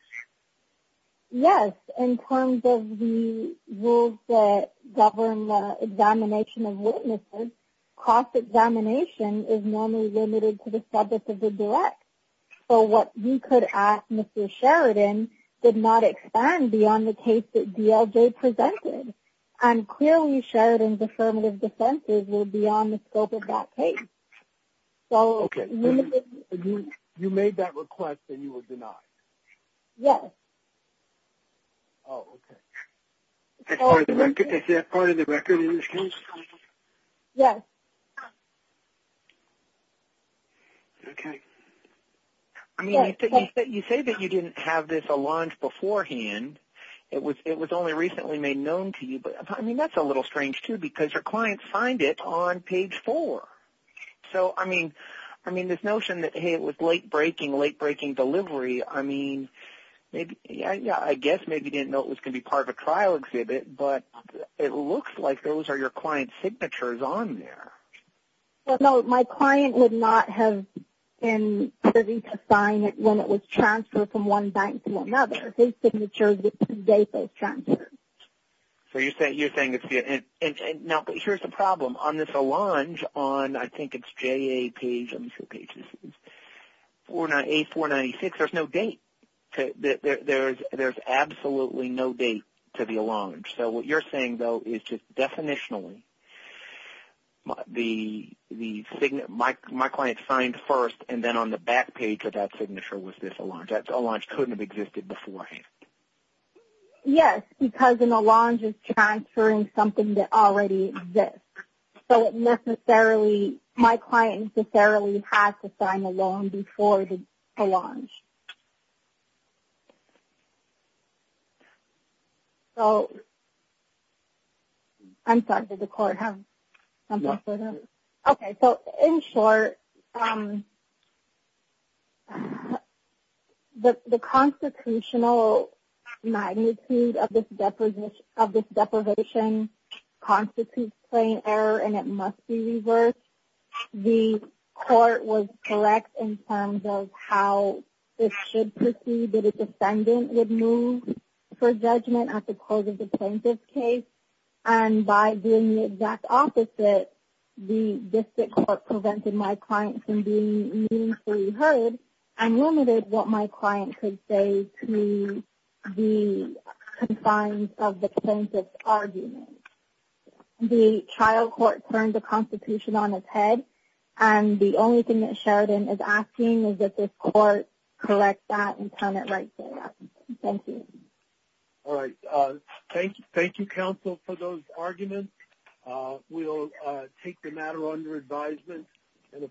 Yes. In terms of the rules that govern the examination of witnesses, cross-examination is normally limited to the subject of the direct. So what you could ask Mr. Sheridan did not expand beyond the case that I'm clearly Sheridan's affirmative defense would be on the scope of that case. Okay. So you made that request and you were denied? Yes. Oh, okay. Is that part of the record in this case? Yes. Okay. You say that you didn't have this a launch beforehand. It was only recently made known to you. I mean, that's a little strange, too, because your client signed it on page 4. So, I mean, this notion that, hey, it was late-breaking, late-breaking delivery, I mean, I guess maybe you didn't know it was going to be part of a trial exhibit, but it looks like those are your client's signatures on there. Well, no, my client would not have been privy to sign it when it was transferred from one bank to another. His signature is the date that it was transferred. So you're saying it's the end. Now, here's the problem. On this Allonge, on I think it's JAP, let me see what page this is, A496, there's no date. There's absolutely no date to the Allonge. So what you're saying, though, is just definitionally my client signed first and then on the back page of that signature was this Allonge. So you're saying that Allonge couldn't have existed beforehand. Yes, because an Allonge is transferring something that already exists. So it necessarily, my client necessarily has to sign a loan before the Allonge. So I'm sorry, did the court have something for that? Okay. So in short, the constitutional magnitude of this deprivation constitutes plain error and it must be reversed. The court was correct in terms of how it should proceed that a defendant would move for judgment at the close of the plaintiff's case, and by being the exact opposite, the district court prevented my client from being meaningfully heard and limited what my client could say to the confines of the plaintiff's argument. The trial court turned the Constitution on its head, and the only thing that Sheridan is asking is that this court correct that and turn it right there. Thank you. All right. Thank you, counsel, for those arguments. We'll take the matter under advisement.